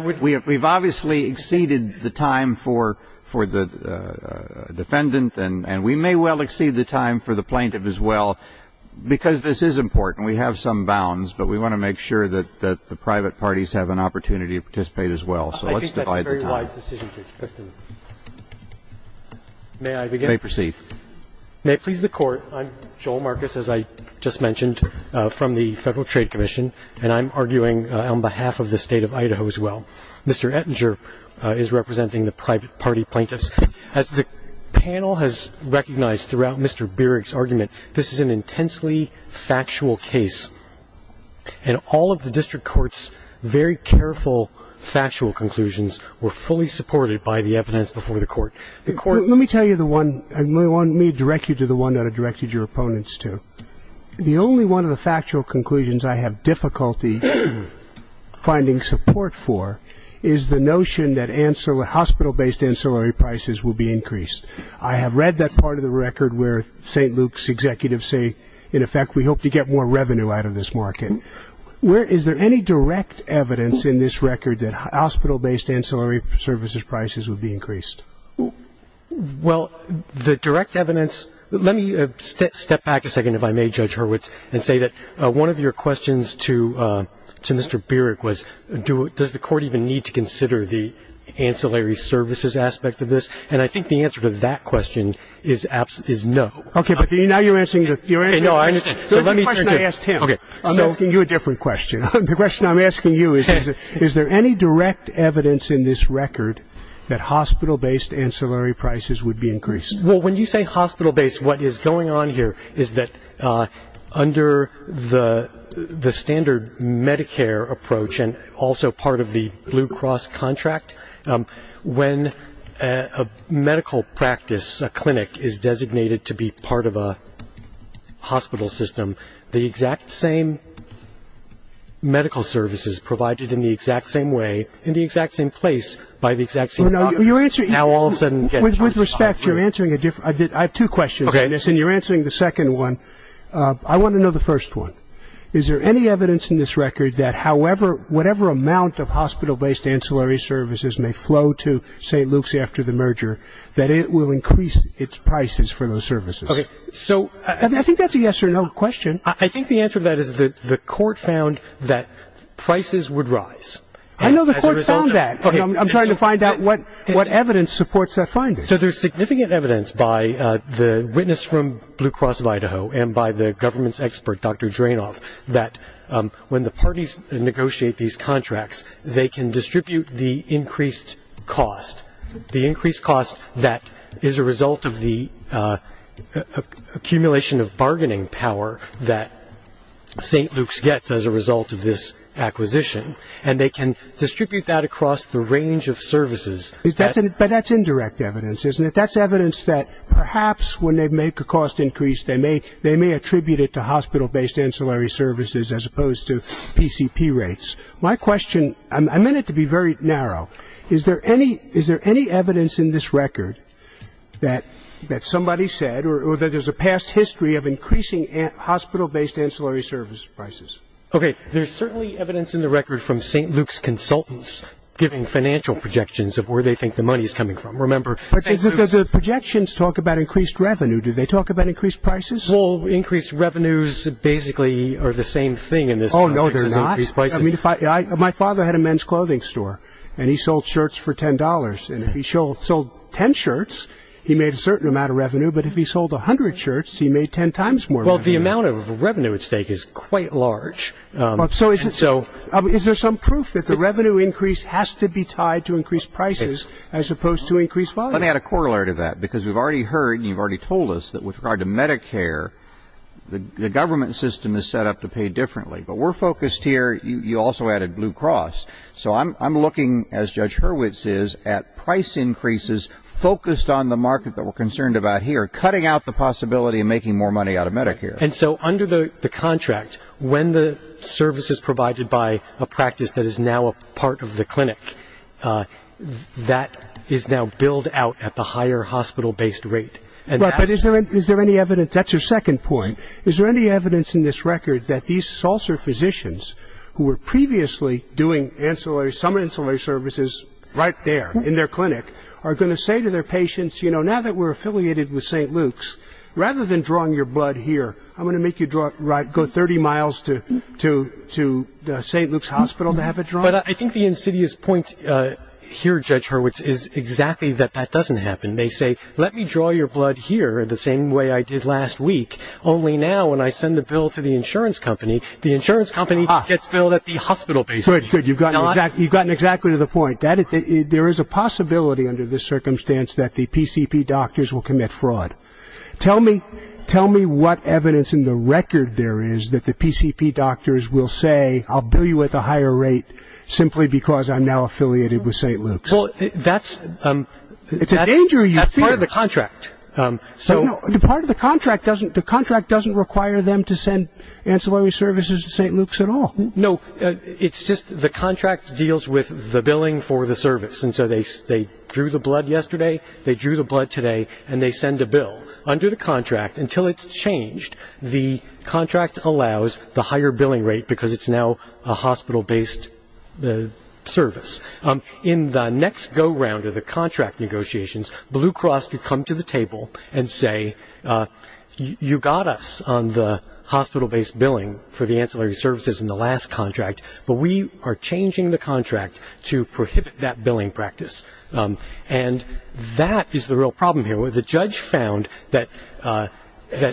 We've obviously exceeded the time for the defendant, and we may well exceed the time for the plaintiff as well because this is important. We have some bounds, but we want to make sure that the private parties have an opportunity to participate as well. So let's divide the time. I think that's a very wise decision, Judge Clifton. May I begin? You may proceed. May it please the Court, I'm Joel Marcus, as I just mentioned, from the Federal Trade Commission, and I'm arguing on behalf of the State of Idaho as well. Mr. Ettinger is representing the private party plaintiffs. As the panel has recognized throughout Mr. Bierig's argument, this is an intensely factual case, and all of the district court's very careful factual conclusions were fully supported by the evidence before the Court. Let me tell you the one, and let me direct you to the one that I directed your opponents to. The only one of the factual conclusions I have difficulty finding support for is the notion that hospital-based ancillary prices will be increased. I have read that part of the record where St. Luke's executives say, in effect, we hope to get more revenue out of this market. Is there any direct evidence in this record that hospital-based ancillary services prices would be increased? Well, the direct evidence, let me step back a second, if I may, Judge Hurwitz, and say that one of your questions to Mr. Bierig was, does the Court even need to consider the ancillary services aspect of this? And I think the answer to that question is no. Okay, but now you're answering your answer. No, I understand. The question I asked him. Okay, I'm asking you a different question. The question I'm asking you is, is there any direct evidence in this record that hospital-based ancillary prices would be increased? Well, when you say hospital-based, what is going on here is that under the standard Medicare approach and also part of the Blue Cross contract, when a medical practice, a clinic, is designated to be part of a hospital system, the exact same medical services provided in the exact same way in the exact same place by the exact same doctor. With respect, you're answering a different question. I have two questions on this, and you're answering the second one. I want to know the first one. Is there any evidence in this record that however, whatever amount of hospital-based ancillary services may flow to St. Luke's after the merger, that it will increase its prices for those services? Okay, so I think that's a yes or no question. I think the answer to that is the court found that prices would rise. I know the court found that. I'm trying to find out what evidence supports that finding. So there's significant evidence by the witness from Blue Cross of Idaho and by the government's expert, Dr. Drainoff, that when the parties negotiate these contracts, they can distribute the increased cost. The increased cost that is a result of the accumulation of bargaining power that St. Luke's gets as a result of this acquisition, and they can distribute that across the range of services. But that's indirect evidence, isn't it? That's evidence that perhaps when they make a cost increase, they may attribute it to hospital-based ancillary services as opposed to PCP rates. My question, I meant it to be very narrow. Is there any evidence in this record that somebody said or that there's a past history of increasing hospital-based ancillary service prices? Okay, there's certainly evidence in the record from St. Luke's consultants giving financial projections of where they think the money is coming from. Remember, projections talk about increased revenue. Do they talk about increased prices? Well, increased revenues basically are the same thing in this country. Oh, no, they're not? My father had a men's clothing store, and he sold shirts for $10. And if he sold 10 shirts, he made a certain amount of revenue. But if he sold 100 shirts, he made 10 times more revenue. Well, the amount of revenue at stake is quite large. So is there some proof that the revenue increase has to be tied to increased prices as opposed to increased volume? Let me add a corollary to that, because we've already heard and you've already told us that with regard to Medicare, the government system is set up to pay differently. But we're focused here. You also added Blue Cross. So I'm looking, as Judge Hurwitz is, at price increases focused on the market that we're concerned about here, cutting out the possibility of making more money out of Medicare. And so under the contract, when the service is provided by a practice that is now a part of the clinic, that is now billed out at the higher hospital-based rate. But is there any evidence? That's your second point. Is there any evidence in this record that these Salser physicians, who were previously doing summer ancillary services right there in their clinic, are going to say to their patients, you know, now that we're affiliated with St. Luke's, rather than drawing your blood here, I'm going to make you go 30 miles to St. Luke's Hospital to have it drawn? But I think the insidious point here, Judge Hurwitz, is exactly that that doesn't happen. They say, let me draw your blood here the same way I did last week, only now when I send the bill to the insurance company, the insurance company gets billed at the hospital-based rate. Good, good. You've gotten exactly to the point. There is a possibility under this circumstance that the PCP doctors will commit fraud. Tell me what evidence in the record there is that the PCP doctors will say, I'll bill you at the higher rate simply because I'm now affiliated with St. Luke's. Well, that's part of the contract. Part of the contract doesn't require them to send ancillary services to St. Luke's at all. No, it's just the contract deals with the billing for the service, and so they drew the blood yesterday, they drew the blood today, and they send a bill. Under the contract, until it's changed, the contract allows the higher billing rate because it's now a hospital-based service. In the next go-round of the contract negotiations, Blue Cross could come to the table and say, you got us on the hospital-based billing for the ancillary services in the last contract, but we are changing the contract to prohibit that billing practice, and that is the real problem here. The judge found that the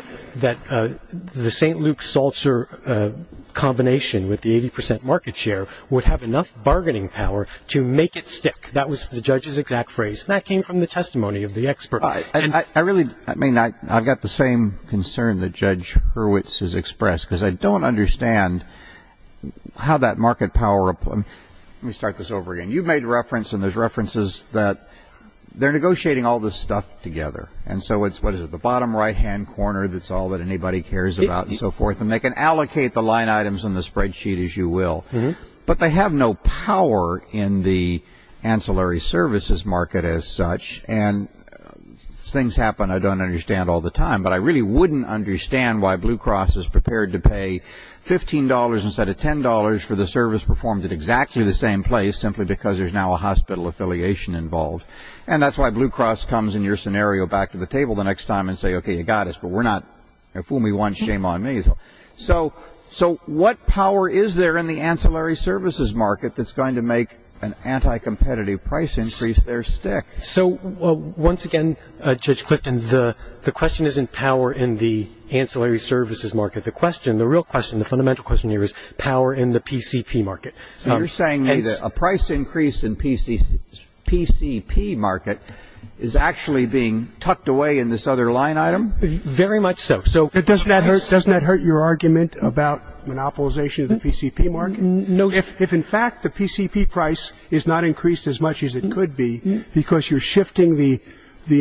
St. Luke's Seltzer combination with the 80 percent market share would have enough bargaining power to make it stick. That was the judge's exact phrase. That came from the testimony of the expert. I've got the same concern that Judge Hurwitz has expressed because I don't understand how that market power—let me start this over again. You've made reference, and there's references that they're negotiating all this stuff together, and so it's the bottom right-hand corner that's all that anybody cares about and so forth, and they can allocate the line items on the spreadsheet as you will, but they have no power in the ancillary services market as such, and things happen I don't understand all the time, but I really wouldn't understand why Blue Cross is prepared to pay $15 instead of $10 for the service performed at exactly the same place simply because there's now a hospital affiliation involved, and that's why Blue Cross comes in your scenario back to the table the next time and say, Okay, you got us, but we're not—fool me once, shame on me. So what power is there in the ancillary services market that's going to make an anti-competitive price increase there stick? So once again, Judge Clifton, the question isn't power in the ancillary services market. The question, the real question, the fundamental question here is power in the PCP market. So you're saying a price increase in PCP market is actually being tucked away in this other line item? Very much so. So does that hurt your argument about monopolization of the PCP market? No. If in fact the PCP price is not increased as much as it could be because you're shifting the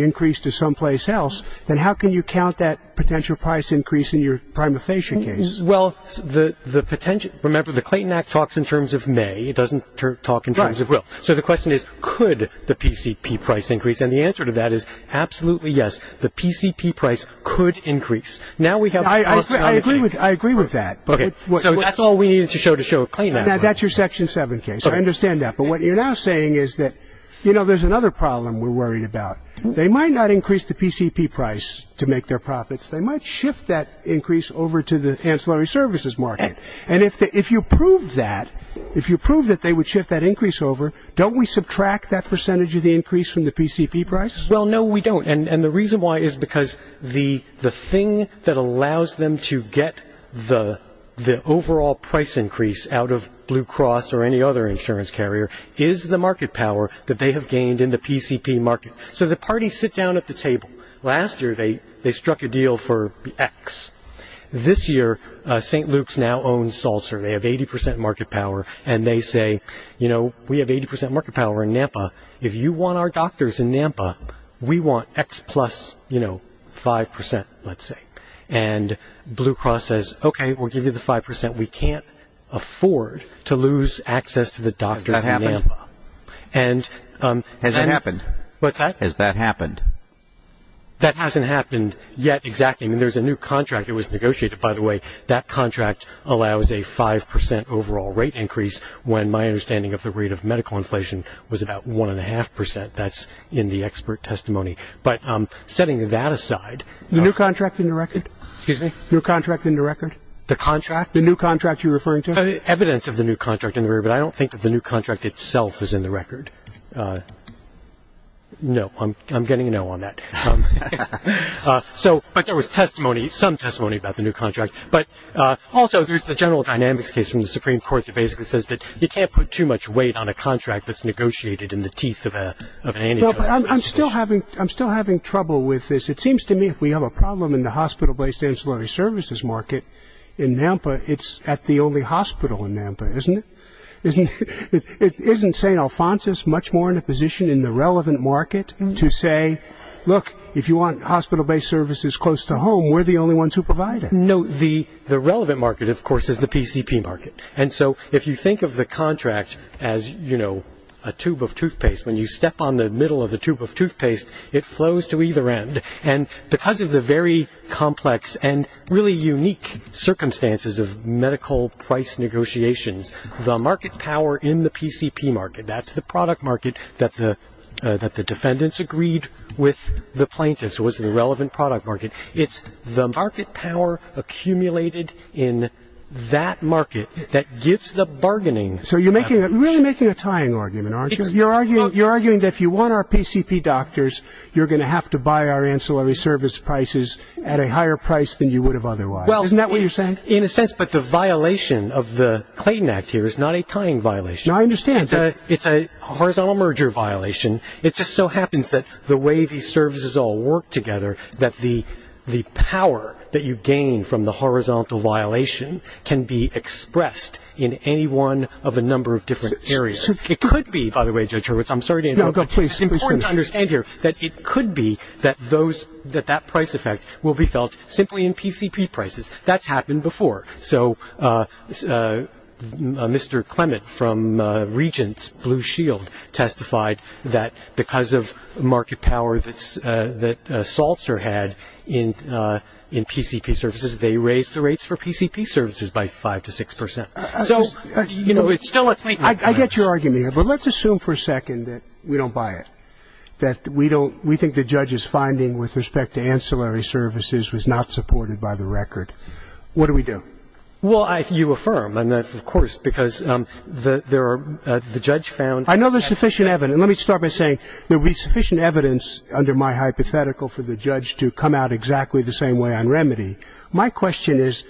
increase to someplace else, then how can you count that potential price increase in your prima facie case? Well, remember the Clayton Act talks in terms of May. It doesn't talk in terms of will. So the question is could the PCP price increase, and the answer to that is absolutely yes. The PCP price could increase. I agree with that. So that's all we need to show to show Clayton Act. That's your Section 7 case. I understand that. But what you're now saying is that there's another problem we're worried about. They might not increase the PCP price to make their profits. They might shift that increase over to the ancillary services market, and if you prove that, if you prove that they would shift that increase over, don't we subtract that percentage of the increase from the PCP price? Well, no, we don't, and the reason why is because the thing that allows them to get the overall price increase out of Blue Cross or any other insurance carrier is the market power that they have gained in the PCP market. So the parties sit down at the table. Last year they struck a deal for X. This year St. Luke's now owns Seltzer. They have 80 percent market power, and they say, you know, we have 80 percent market power in Nampa. If you want our doctors in Nampa, we want X plus, you know, 5 percent, let's say. And Blue Cross says, okay, we'll give you the 5 percent. We can't afford to lose access to the doctors in Nampa. Has that happened? What's that? Has that happened? That hasn't happened yet exactly. I mean, there's a new contract that was negotiated, by the way. That contract allows a 5 percent overall rate increase when my understanding of the rate of medical inflation was about 1.5 percent. That's in the expert testimony. But setting that aside, the new contract in the record? Excuse me? New contract in the record? The contract? The new contract you're referring to? Evidence of the new contract in the record, but I don't think that the new contract itself is in the record. No, I'm getting a no on that. But there was testimony, some testimony about the new contract. Also, there's the general dynamics case from the Supreme Court that basically says that you can't put too much weight on a contract that's negotiated in the teeth of an antidote. I'm still having trouble with this. It seems to me if we have a problem in the hospital-based ancillary services market in Nampa, it's at the only hospital in Nampa, isn't it? Isn't St. Alphonsus much more in a position in the relevant market to say, look, if you want hospital-based services close to home, we're the only ones who provide it? No, the relevant market, of course, is the PCP market. And so if you think of the contract as, you know, a tube of toothpaste, when you step on the middle of the tube of toothpaste, it flows to either end. And because of the very complex and really unique circumstances of medical price negotiations, the market power in the PCP market, that's the product market that the defendants agreed with the plaintiffs, was the relevant product market. It's the market power accumulated in that market that gives the bargaining. So you're really making a tying argument, aren't you? You're arguing that if you want our PCP doctors, you're going to have to buy our ancillary service prices at a higher price than you would have otherwise. Isn't that what you're saying? In a sense, but the violation of the Clayton Act here is not a tying violation. I understand. It's a horizontal merger violation. It just so happens that the way these services all work together, that the power that you gain from the horizontal violation can be expressed in any one of a number of different areas. It could be, by the way, Judge Hurwitz, I'm sorry to interrupt. It's important to understand here that it could be that that price effect will be felt simply in PCP prices. That's happened before. So Mr. Clement from Regents, Blue Shield, testified that because of market power that Saltzer had in PCP services, they raised the rates for PCP services by five to six percent. So, you know, it's still a thing. I get your argument here, but let's assume for a second that we don't buy it, that we think the judge's finding with respect to ancillary services was not supported by the record. What do we do? Well, you affirm, and of course, because the judge found. I know there's sufficient evidence. Let me start by saying there will be sufficient evidence under my hypothetical for the judge to come out exactly the same way on remedy. My question is,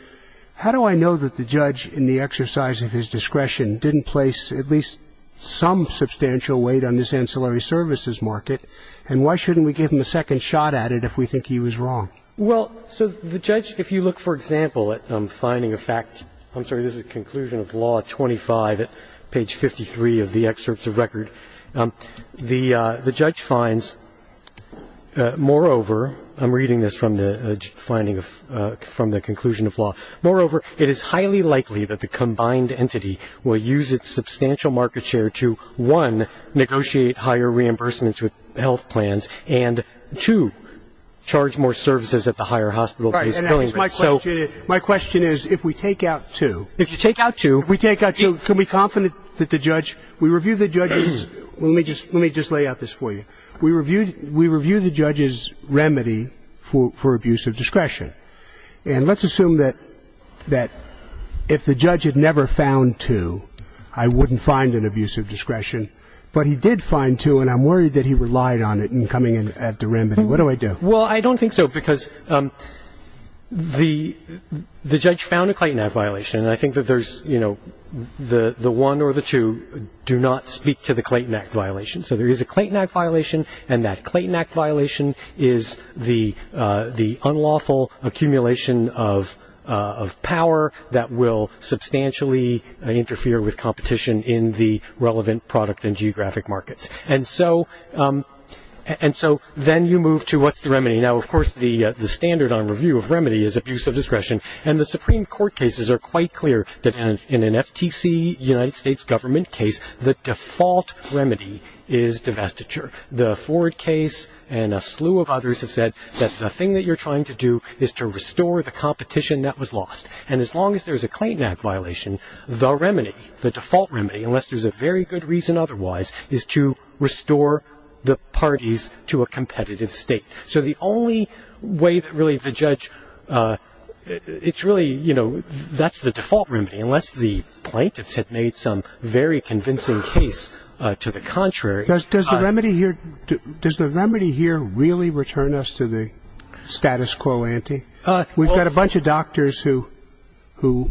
how do I know that the judge in the exercise of his discretion didn't place at least some substantial weight on this ancillary services market, and why shouldn't we give him a second shot at it if we think he was wrong? Well, so the judge, if you look, for example, at finding a fact. I'm sorry, this is conclusion of law 25, page 53 of the excerpts of record. The judge finds, moreover, I'm reading this from the conclusion of law. Moreover, it is highly likely that the combined entity will use its substantial market share to, one, My question is, if we take out two, can we be confident that the judge, we review the judge's, let me just lay out this for you. We review the judge's remedy for abuse of discretion. And let's assume that if the judge had never found two, I wouldn't find an abuse of discretion. But he did find two, and I'm worried that he relied on it in coming in at the remedy. What do I do? Well, I don't think so, because the judge found a Clayton Act violation, and I think that there's, you know, the one or the two do not speak to the Clayton Act violation. So there is a Clayton Act violation, and that Clayton Act violation is the unlawful accumulation of power that will substantially interfere with competition in the relevant product and geographic markets. And so then you move to what's the remedy. Now, of course, the standard on review of remedy is abuse of discretion, and the Supreme Court cases are quite clear that in an FTC, United States government case, the default remedy is divestiture. The Ford case and a slew of others have said that the thing that you're trying to do is to restore the competition that was lost. And as long as there's a Clayton Act violation, the remedy, the default remedy, unless there's a very good reason otherwise, is to restore the parties to a competitive state. So the only way that really the judge, it's really, you know, that's the default remedy, unless the plaintiffs have made some very convincing case to the contrary. Does the remedy here really return us to the status quo ante? We've got a bunch of doctors who, you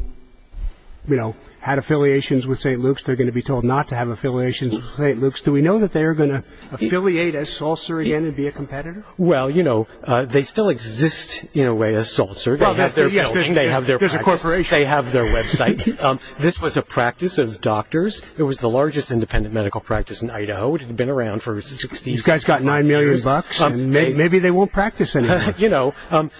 know, had affiliations with St. Luke's. They're going to be told not to have affiliations with St. Luke's. Do we know that they are going to affiliate as Salser again and be a competitor? Well, you know, they still exist in a way as Salser. There's a corporation. They have their website. This was a practice of doctors. It was the largest independent medical practice in Idaho, which had been around for 60 years. You guys got $9 million. Maybe they won't practice anymore. You know,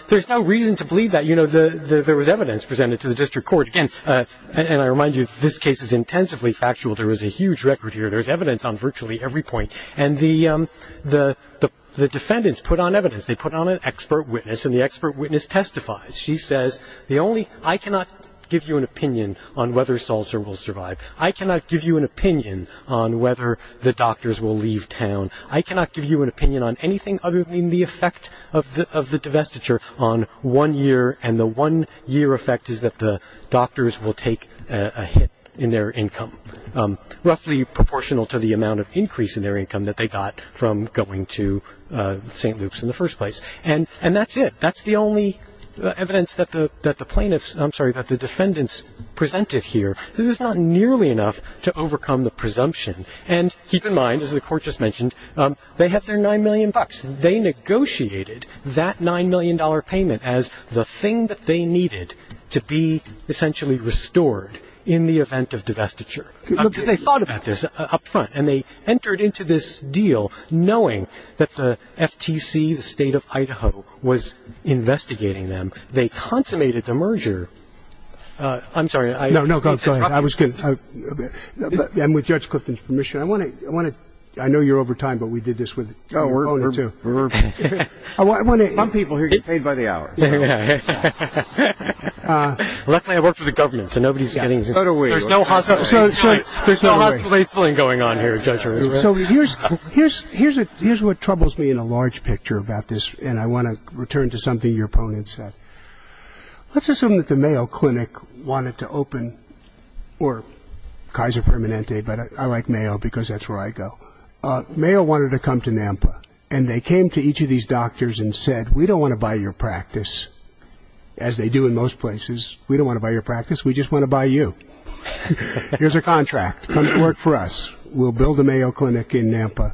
there's no reason to believe that. You know, there was evidence presented to the district court. And I remind you, this case is intensively factual. There was a huge record here. There's evidence on virtually every point. And the defendants put on evidence. They put on an expert witness, and the expert witness testifies. She says, I cannot give you an opinion on whether Salser will survive. I cannot give you an opinion on whether the doctors will leave town. I cannot give you an opinion on anything other than the effect of the divestiture on one year, and the one-year effect is that the doctors will take a hit in their income, roughly proportional to the amount of increase in their income that they got from going to St. Luke's in the first place. And that's it. That's the only evidence that the plaintiffs – I'm sorry, that the defendants presented here. This is not nearly enough to overcome the presumption. And keep in mind, as the court just mentioned, they have their $9 million. They negotiated that $9 million payment as the thing that they needed to be essentially restored in the event of divestiture. They thought about this up front. And they entered into this deal knowing that the FTC, the state of Idaho, was investigating them. They consummated the merger. I'm sorry. No, no, go ahead. I was kidding. And with Judge Clifton's permission, I want to – I know you're over time, but we did this with your opponent, too. Some people here get paid by the hour. Luckily I worked for the government, so nobody's getting – There's no hospitalization going on here, Judge. So here's what troubles me in a large picture about this, and I want to return to something your opponent said. Let's assume that the Mayo Clinic wanted to open – or Kaiser Permanente, but I like Mayo because that's where I go. Mayo wanted to come to Nampa, and they came to each of these doctors and said, we don't want to buy your practice, as they do in most places. We don't want to buy your practice. We just want to buy you. Here's a contract. Come work for us. We'll build a Mayo Clinic in Nampa.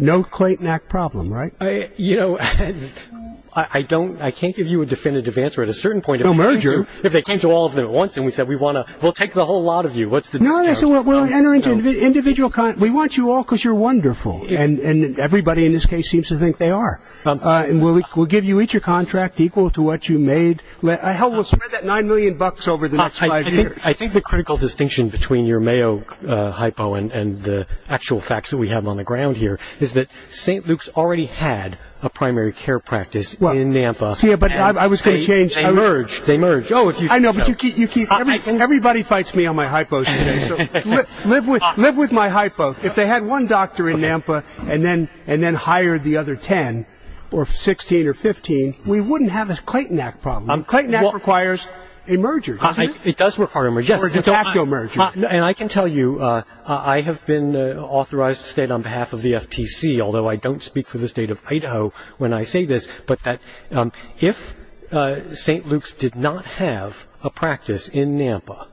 No quaint knack problem, right? You know, I can't give you a definitive answer at a certain point. No merger. But they came to all of them at once, and we said, we'll take the whole lot of you. No, no, no. We'll enter into individual – we want you all because you're wonderful, and everybody in this case seems to think they are. And we'll give you each a contract equal to what you made. Hell, we'll spend that $9 million over the next five years. I think the critical distinction between your Mayo hypo and the actual facts that we have on the ground here is that St. Luke's already had a primary care practice in Nampa. Yeah, but I was going to change – They merged. They merged. I know, but you keep – everybody fights me on my hypos. Live with my hypos. If they had one doctor in Nampa and then hired the other 10 or 16 or 15, we wouldn't have this quaint knack problem. Quaint knack requires a merger. It does require a merger. It's an actual merger. And I can tell you I have been authorized to stand on behalf of the FTC, although I don't speak for the state of Idaho when I say this, but that if St. Luke's did not have a practice in Nampa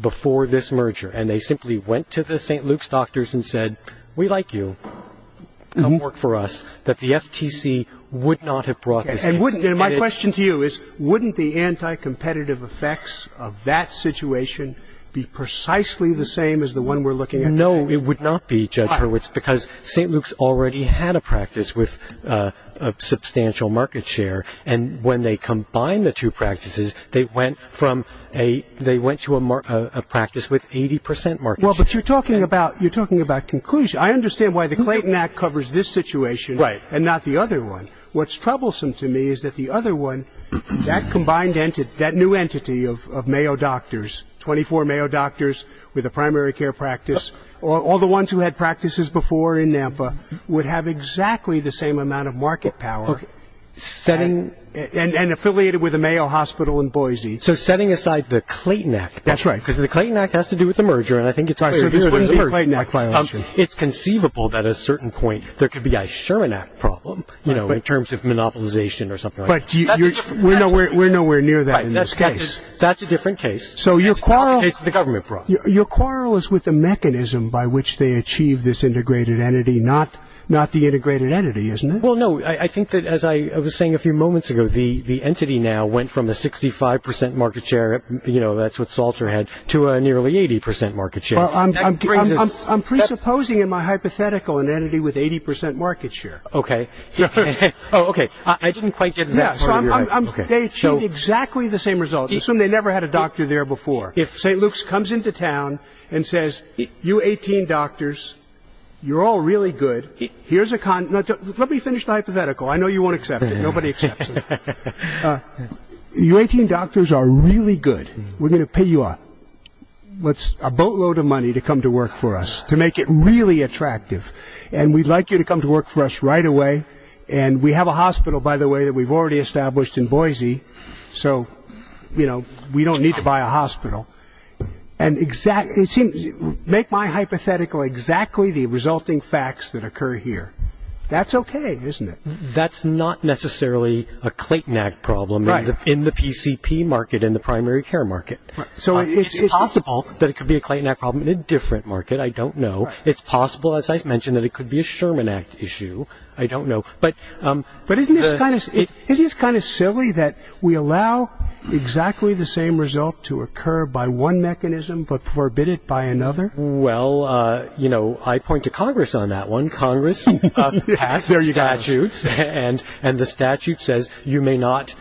before this merger and they simply went to the St. Luke's doctors and said, we like you, come work for us, that the FTC would not have brought this in. My question to you is wouldn't the anti-competitive effects of that situation be precisely the same as the one we're looking at today? No, it would not be, Judge Hurwitz, because St. Luke's already had a practice with substantial market share, and when they combined the two practices, they went to a practice with 80 percent market share. Well, but you're talking about conclusion. I understand why the Clayton Act covers this situation and not the other one. What's troublesome to me is that the other one, that combined entity, that new entity of Mayo doctors, 24 Mayo doctors with a primary care practice, all the ones who had practices before in Nampa, would have exactly the same amount of market power and affiliated with a Mayo hospital in Boise. So setting aside the Clayton Act. That's right, because the Clayton Act has to do with the merger, and I think it's our duty to merge. It's conceivable that at a certain point there could be a Sherman Act problem, you know, in terms of monopolization or something like that. But we're nowhere near that in this case. That's a different case. So your quarrel is with the mechanism by which they achieve this integrated entity, not the integrated entity, isn't it? Well, no, I think that, as I was saying a few moments ago, the entity now went from a 65 percent market share, you know, that's what Salter had, to a nearly 80 percent market share. I'm presupposing in my hypothetical an entity with 80 percent market share. Okay. Oh, okay. I didn't quite get that part of your answer. They achieved exactly the same result. Assume they never had a doctor there before. If St. Luke's comes into town and says, you 18 doctors, you're all really good. Let me finish the hypothetical. I know you won't accept it. Nobody accepts it. You 18 doctors are really good. We're going to pay you up. A boatload of money to come to work for us, to make it really attractive. And we'd like you to come to work for us right away. And we have a hospital, by the way, that we've already established in Boise. So, you know, we don't need to buy a hospital. And make my hypothetical exactly the resulting facts that occur here. That's okay, isn't it? That's not necessarily a Clayton Act problem in the PCP market, in the primary care market. So it's possible that it could be a Clayton Act problem in a different market. I don't know. It's possible, as I mentioned, that it could be a Sherman Act issue. I don't know. But isn't it kind of silly that we allow exactly the same result to occur by one mechanism, but forbid it by another? Well, you know, I point to Congress on that one. Congress passed their statutes, and the statute says you may not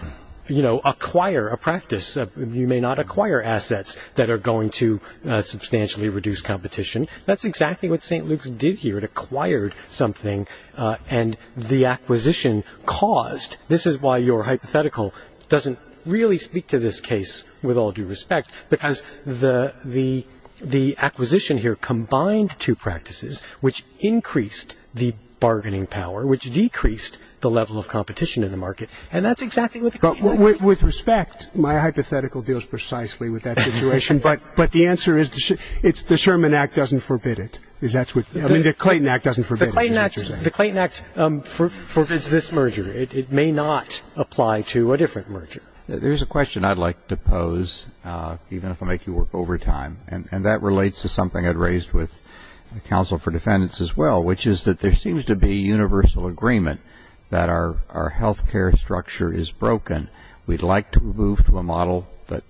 acquire a practice. You may not acquire assets that are going to substantially reduce competition. That's exactly what St. Luke's did here. It acquired something, and the acquisition caused. This is why your hypothetical doesn't really speak to this case with all due respect, because the acquisition here combined two practices, which increased the bargaining power, which decreased the level of competition in the market. And that's exactly what the case was. With respect, my hypothetical deals precisely with that situation. But the answer is the Sherman Act doesn't forbid it. The Clayton Act doesn't forbid it. The Clayton Act forbids this merger. It may not apply to a different merger. There's a question I'd like to pose, even if I make you work overtime, and that relates to something I'd raised with the Council for Defendants as well, which is that there seems to be a universal agreement that our health care structure is broken. We'd like to move to a model that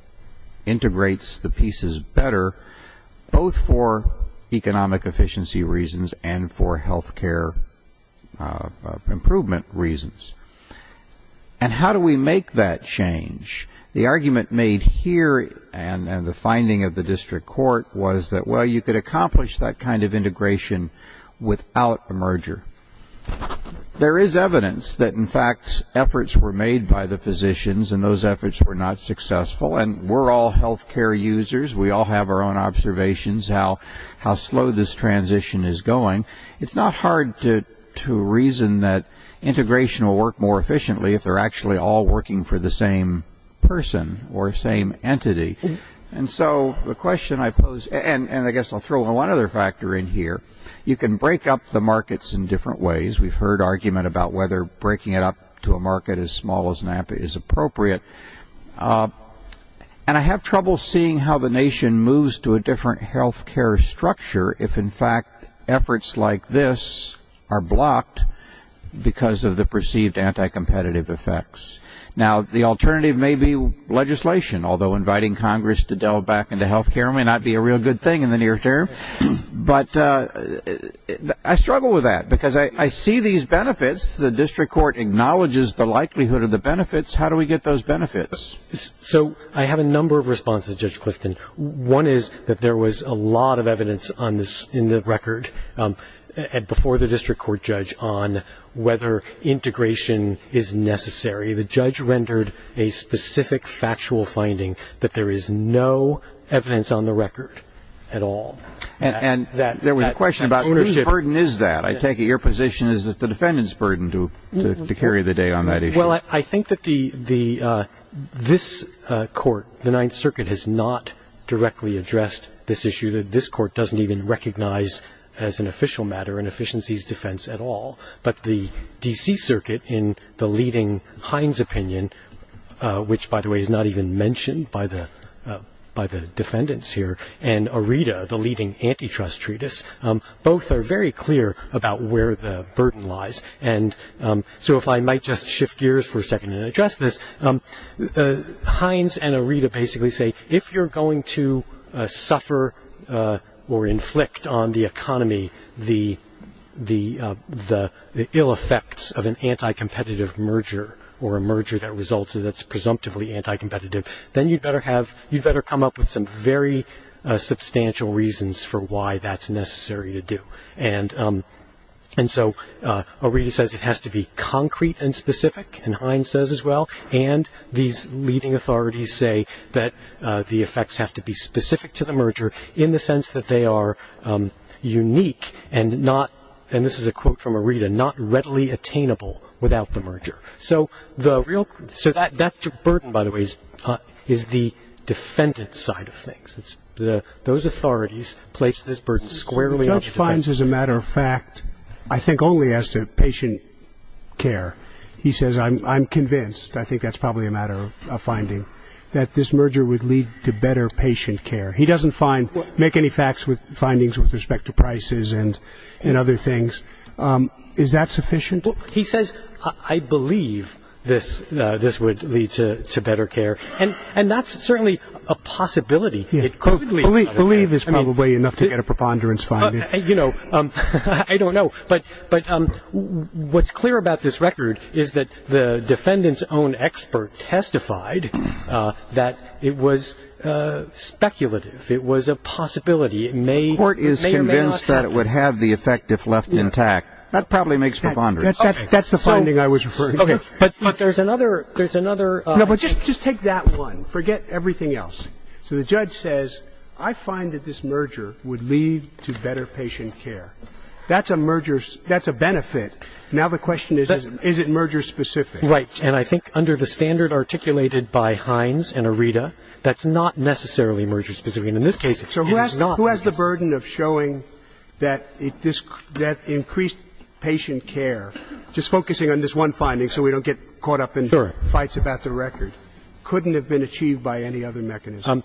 integrates the pieces better, both for economic efficiency reasons and for health care improvement reasons. And how do we make that change? The argument made here and the finding of the district court was that, well, you could accomplish that kind of integration without a merger. There is evidence that, in fact, efforts were made by the physicians and those efforts were not successful. And we're all health care users. We all have our own observations how slow this transition is going. It's not hard to reason that integration will work more efficiently if they're actually all working for the same person or same entity. And so the question I pose, and I guess I'll throw one other factor in here, you can break up the markets in different ways. We've heard argument about whether breaking it up to a market as small as NAMP is appropriate. And I have trouble seeing how the nation moves to a different health care structure if, in fact, efforts like this are blocked because of the perceived anti-competitive effects. Now, the alternative may be legislation, although inviting Congress to delve back into health care may not be a real good thing in the near term. But I struggle with that because I see these benefits. The district court acknowledges the likelihood of the benefits. How do we get those benefits? So I have a number of responses, Judge Clifton. One is that there was a lot of evidence in the record before the district court judge on whether integration is necessary. The judge rendered a specific factual finding that there is no evidence on the record at all. And there was a question about whose burden is that? I take it your position is that the defendant's burden to carry the day on that issue. Well, I think that this court, the Ninth Circuit, has not directly addressed this issue. This court doesn't even recognize it as an official matter, an efficiencies defense at all. But the D.C. Circuit in the leading Heinz opinion, which, by the way, is not even mentioned by the defendants here, and ARETA, the leading antitrust treatise, both are very clear about where the burden lies. And so if I might just shift gears for a second and address this, Heinz and ARETA basically say if you're going to suffer or inflict on the economy the ill effects of an anti-competitive merger or a merger that results in that's presumptively anti-competitive, then you'd better come up with some very substantial reasons for why that's necessary to do. And so ARETA says it has to be concrete and specific, and Heinz says as well, and these leading authorities say that the effects have to be specific to the merger in the sense that they are unique and not, and this is a quote from ARETA, not readily attainable without the merger. So that's the burden, by the way, is the defendant side of things. Those authorities place this burden squarely. The judge finds, as a matter of fact, I think only as to patient care. He says, I'm convinced, I think that's probably a matter of finding, that this merger would lead to better patient care. He doesn't make any facts with findings with respect to prices and other things. Is that sufficient? He says, I believe this would lead to better care, and that's certainly a possibility. Believe is probably enough to get a preponderance finding. You know, I don't know. But what's clear about this record is that the defendant's own expert testified that it was speculative. It was a possibility. The court is convinced that it would have the effect if left intact. That probably makes preponderance. That's the finding I was referring to. But there's another. Just take that one. Forget everything else. So the judge says, I find that this merger would lead to better patient care. That's a merger. That's a benefit. Now the question is, is it merger-specific? Right. And I think under the standard articulated by Hines and Arita, that's not necessarily merger-specific. And in this case, it is not. So who has the burden of showing that increased patient care, just focusing on this one finding so we don't get caught up in fights about the record, couldn't have been achieved by any other mechanism?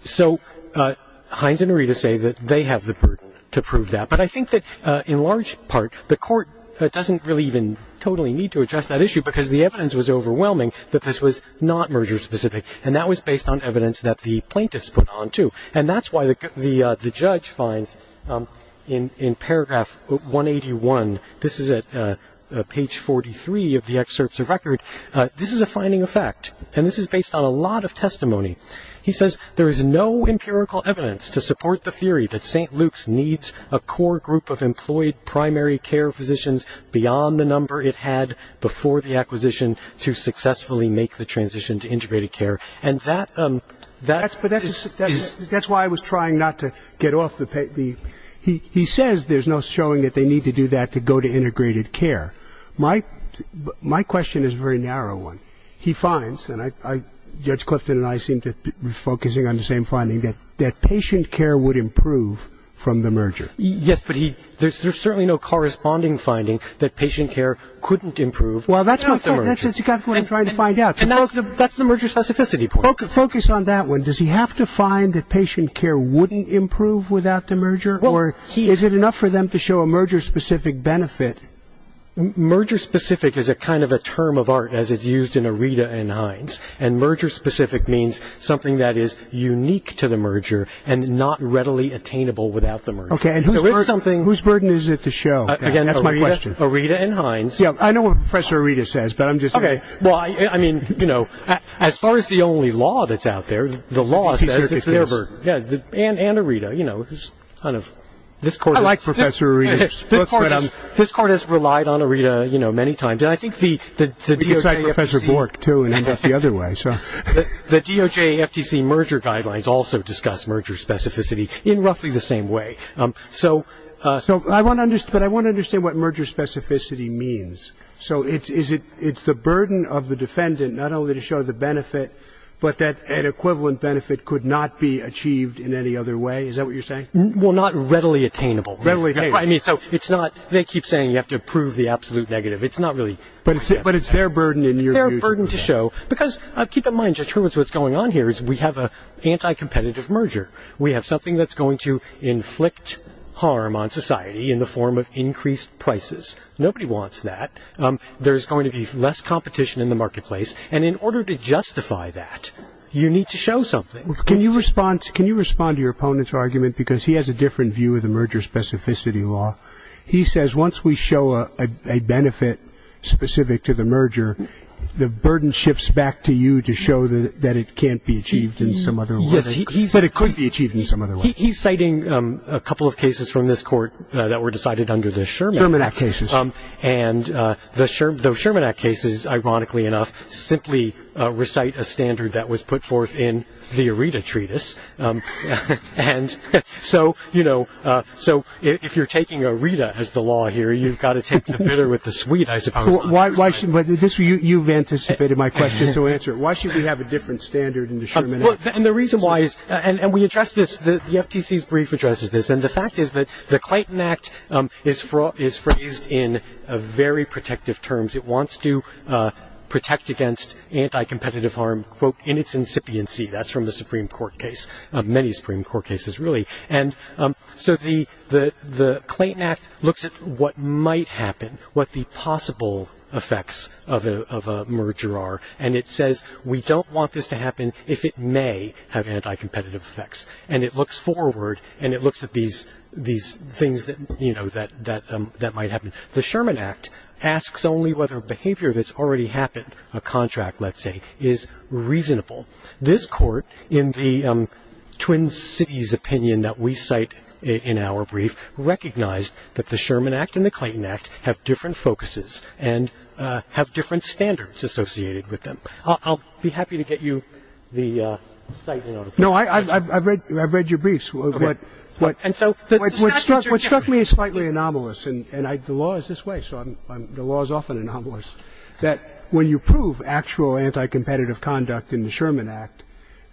So Hines and Arita say that they have the burden to prove that. But I think that in large part, the court doesn't really even totally need to address that issue because the evidence was overwhelming that this was not merger-specific. And that was based on evidence that the plaintiffs put on, too. And that's why the judge finds in paragraph 181, this is at page 43 of the excerpts of record, this is a finding of fact, and this is based on a lot of testimony. He says, there is no empirical evidence to support the theory that St. Luke's needs a core group of employed primary care physicians beyond the number it had before the acquisition to successfully make the transition to integrated care. And that's why I was trying not to get off the page. He says there's no showing that they need to do that to go to integrated care. My question is a very narrow one. He finds, and Judge Clifton and I seem to be focusing on the same finding, that patient care would improve from the merger. Yes, but there's certainly no corresponding finding that patient care couldn't improve. Well, that's what I'm trying to find out. And that's the merger specificity point. Focus on that one. Does he have to find that patient care wouldn't improve without the merger? Or is it enough for them to show a merger specific benefit? Merger specific is a kind of a term of art as it's used in Aretha and Hines. And merger specific means something that is unique to the merger and not readily attainable without the merger. Okay, and whose burden is it to show? Again, Aretha and Hines. I know what Professor Aretha says, but I'm just saying. Well, I mean, you know, as far as the only law that's out there, the law is that it's never. And Aretha, you know, it's kind of. I like Professor Aretha. This court has relied on Aretha, you know, many times. And I think the DOJ FTC. It's like Professor Bork, too, in the other way. The DOJ FTC merger guidelines also discuss merger specificity in roughly the same way. So I want to understand what merger specificity means. So it's the burden of the defendant not only to show the benefit, but that an equivalent benefit could not be achieved in any other way. Is that what you're saying? Well, not readily attainable. Readily attainable. I mean, so it's not. They keep saying you have to prove the absolute negative. It's not really. But it's their burden in your view. Their burden to show. Because keep in mind just what's going on here is we have an anti-competitive merger. We have something that's going to inflict harm on society in the form of increased prices. Nobody wants that. There's going to be less competition in the marketplace. And in order to justify that, you need to show something. Can you respond to your opponent's argument? Because he has a different view of the merger specificity law. He says once we show a benefit specific to the merger, the burden shifts back to you to show that it can't be achieved in some other way. But it could be achieved in some other way. He's citing a couple of cases from this court that were decided under the Sherman Act. And the Sherman Act cases, ironically enough, simply recite a standard that was put forth in the Aretha Treatise. And so, you know, so if you're taking Aretha as the law here, you've got to take the bitter with the sweet. But you've anticipated my question to answer it. Why should we have a different standard in the Sherman Act? And the reason why is and we address this. The FTC's brief addresses this. And the fact is that the Clayton Act is phrased in very protective terms. It wants to protect against anti-competitive harm, quote, in its incipiency. That's from the Supreme Court case, many Supreme Court cases really. And so the Clayton Act looks at what might happen, what the possible effects of a merger are. And it says we don't want this to happen if it may have anti-competitive effects. And it looks forward and it looks at these things that, you know, that might happen. The Sherman Act asks only whether a behavior that's already happened, a contract, let's say, is reasonable. This court, in the Twin Cities opinion that we cite in our brief, recognized that the Sherman Act and the Clayton Act have different focuses and have different standards associated with them. I'll be happy to get you the site, you know. No, I've read your briefs. What struck me as slightly anomalous, and the law is this way, so the law is often anomalous, that when you prove actual anti-competitive conduct in the Sherman Act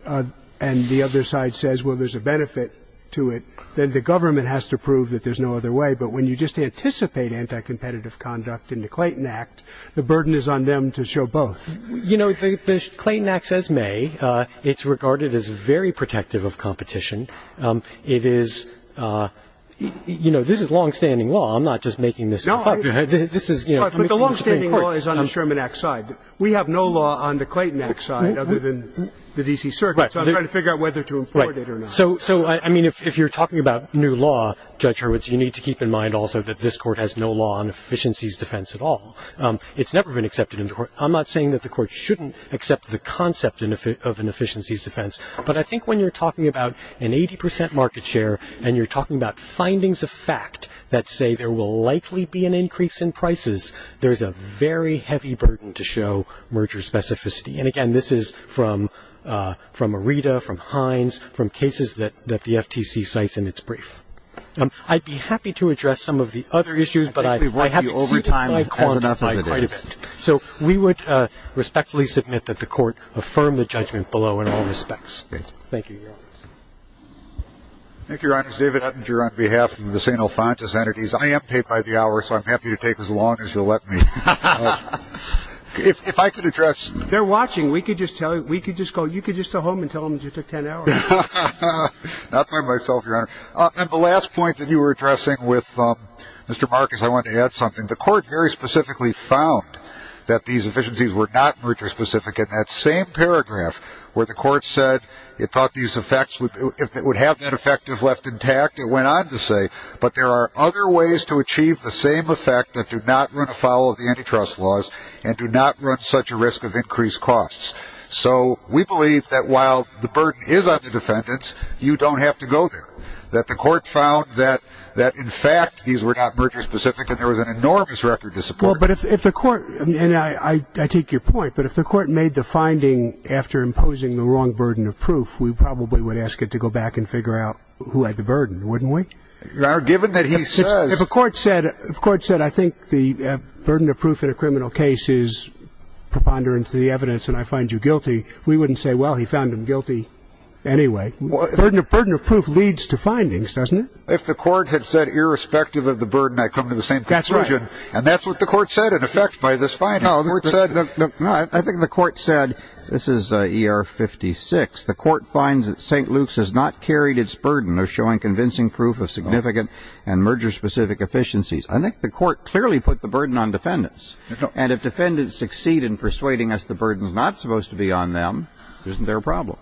and the other side says, well, there's a benefit to it, then the government has to prove that there's no other way. But when you just anticipate anti-competitive conduct in the Clayton Act, the burden is on them to show both. You know, the Clayton Act says may. It's regarded as very protective of competition. It is, you know, this is longstanding law. I'm not just making this up. But the longstanding law is on the Sherman Act side. We have no law on the Clayton Act side other than the D.C. Circuit, so I'm trying to figure out whether to import it or not. So, I mean, if you're talking about new law, Judge Hurwitz, you need to keep in mind also that this court has no law on efficiencies defense at all. It's never been accepted into court. I'm not saying that the court shouldn't accept the concept of an efficiencies defense, but I think when you're talking about an 80 percent market share and you're talking about findings of fact that say there will likely be an increase in prices, there's a very heavy burden to show merger specificity. And, again, this is from Rita, from Hines, from cases that the FTC cites in its brief. I'd be happy to address some of the other issues, but I have to keep my quiet a bit. So, we would respectfully submit that the court affirm the judgment below in all respects. Thank you. Thank you, Your Honor. David Ettinger on behalf of the St. Alphonsus entities. I am paid by the hour, so I'm happy to take as long as you'll let me. If I could address. They're watching. We could just tell you could just go home and tell them it took 10 hours. Not by myself, Your Honor. And the last point that you were addressing with Mr. Marcus, I wanted to add something. The court very specifically found that these efficiencies were not merger specific in that same paragraph where the court said it thought these effects would have been effective left intact. It went on to say, but there are other ways to achieve the same effect that do not run afoul of the antitrust laws and do not run such a risk of increased costs. So, we believe that while the burden is on the defendants, you don't have to go there. And that the court found that, in fact, these were not merger specific and there was an enormous record to support. Well, but if the court, and I take your point, but if the court made the finding after imposing the wrong burden of proof, we probably would ask it to go back and figure out who had the burden, wouldn't we? Your Honor, given that he says. If the court said, I think the burden of proof in a criminal case is preponderance of the evidence and I find you guilty, we wouldn't say, well, he found him guilty anyway. The burden of proof leads to findings, doesn't it? If the court had said, irrespective of the burden, I come to the same conclusion. That's right. And that's what the court said, in effect, by this finding. I think the court said, this is ER 56, the court finds that St. Luke's has not carried its burden of showing convincing proof of significant and merger specific efficiencies. I think the court clearly put the burden on defendants. And if defendants succeed in persuading us the burden is not supposed to be on them, isn't there a problem?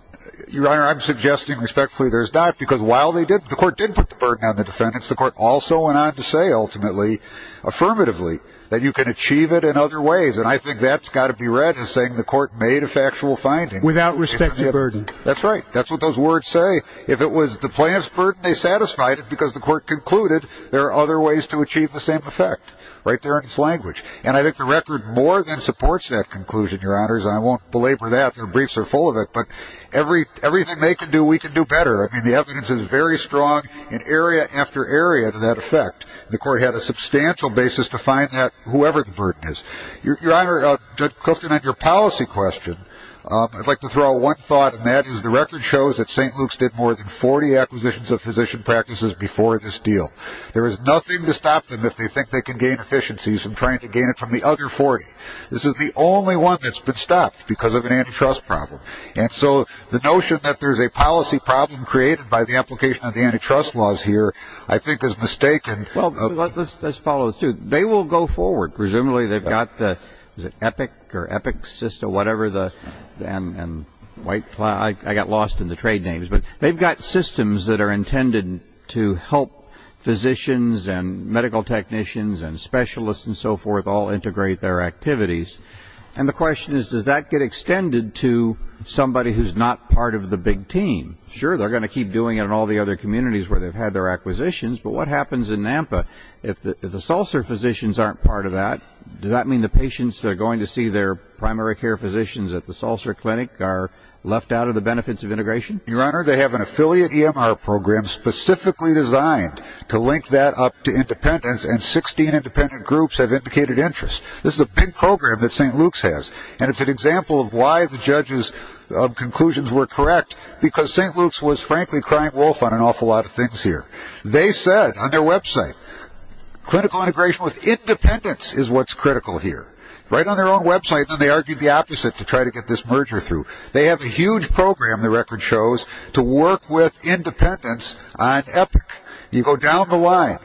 Your Honor, I'm suggesting respectfully there's not, because while the court did put the burden on the defendants, the court also went on to say, ultimately, affirmatively, that you can achieve it in other ways. And I think that's got to be read as saying the court made a factual finding. Without respecting the burden. That's right. That's what those words say. If it was the plaintiff's burden, they satisfied it because the court concluded there are other ways to achieve the same effect. Right there in its language. And I think the record more than supports that conclusion, Your Honors. I won't belabor that. The briefs are full of it. But everything they can do, we can do better. I mean, the evidence is very strong in area after area to that effect. The court had a substantial basis to find that whoever the burden is. Your Honor, Judge Clifton, on your policy question, I'd like to throw out one thought, and that is the record shows that St. Luke's did more than 40 acquisitions of physician practices before this deal. There is nothing to stop them if they think they can gain efficiencies from trying to gain it from the other 40. This is the only one that's been stopped because of an antitrust problem. And so the notion that there's a policy problem created by the application of the antitrust laws here, I think, is mistaken. Well, let's follow through. They will go forward. Presumably they've got the EPIC or EPICSYST or whatever the white flag. I got lost in the trade names. But they've got systems that are intended to help physicians and medical technicians and specialists and so forth all integrate their activities. And the question is, does that get extended to somebody who's not part of the big team? Sure, they're going to keep doing it in all the other communities where they've had their acquisitions, but what happens in NAMPA if the Salser physicians aren't part of that? Does that mean the patients that are going to see their primary care physicians at the Salser Clinic are left out of the benefits of integration? Your Honor, they have an affiliate EMR program specifically designed to link that up to independents, and 16 independent groups have indicated interest. This is a big program that St. Luke's has, and it's an example of why the judges' conclusions were correct, because St. Luke's was, frankly, crying wolf on an awful lot of things here. They said on their website, clinical integration with independents is what's critical here. Right on their own website, then they argued the opposite to try to get this merger through. They have a huge program, the record shows, to work with independents on epic. You go down the line.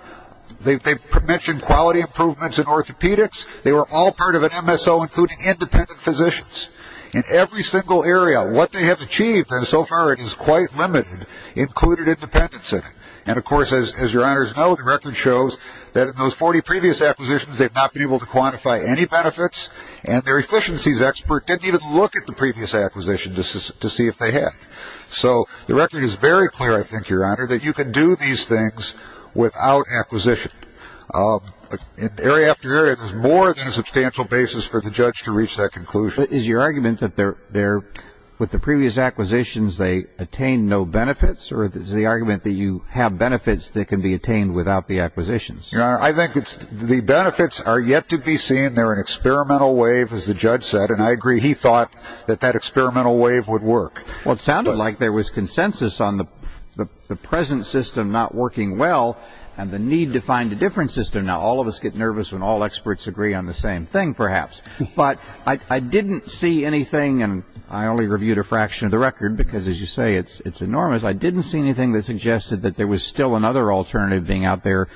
They've mentioned quality improvements in orthopedics. They were all part of an MSO including independent physicians in every single area. What they have achieved, and so far it is quite limited, included independents in it. And, of course, as Your Honors know, the record shows that in those 40 previous acquisitions, they've not been able to quantify any benefits, and their efficiencies expert didn't even look at the previous acquisition to see if they had. So the record is very clear, I think, Your Honor, that you can do these things without acquisition. Area after area, there's more than a substantial basis for the judge to reach that conclusion. Is your argument that with the previous acquisitions they attain no benefits, or is the argument that you have benefits that can be attained without the acquisitions? I think the benefits are yet to be seen. They're an experimental wave, as the judge said, and I agree he thought that that experimental wave would work. Well, it sounded like there was consensus on the present system not working well and the need to find a different system. Now, all of us get nervous when all experts agree on the same thing, perhaps. But I didn't see anything, and I only reviewed a fraction of the record because, as you say, it's enormous. I didn't see anything that suggested that there was still another alternative being out there,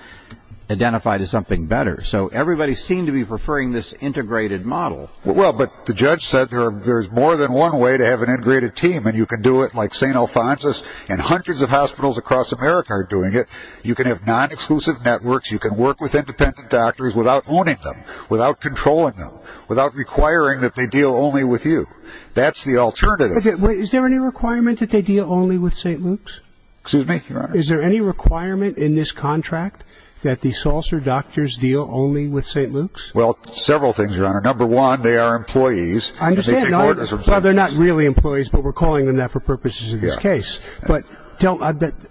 identified as something better. So everybody seemed to be preferring this integrated model. Well, but the judge said there's more than one way to have an integrated team, and you can do it like St. Alphonsus and hundreds of hospitals across America are doing it. You can have non-exclusive networks. You can work with independent doctors without owning them, without controlling them, without requiring that they deal only with you. That's the alternative. Is there any requirement that they deal only with St. Luke's? Excuse me? Your Honor. Is there any requirement in this contract that the Salser doctors deal only with St. Luke's? Well, several things, Your Honor. Number one, they are employees. I understand. Well, they're not really employees, but we're calling them that for purposes of this case. But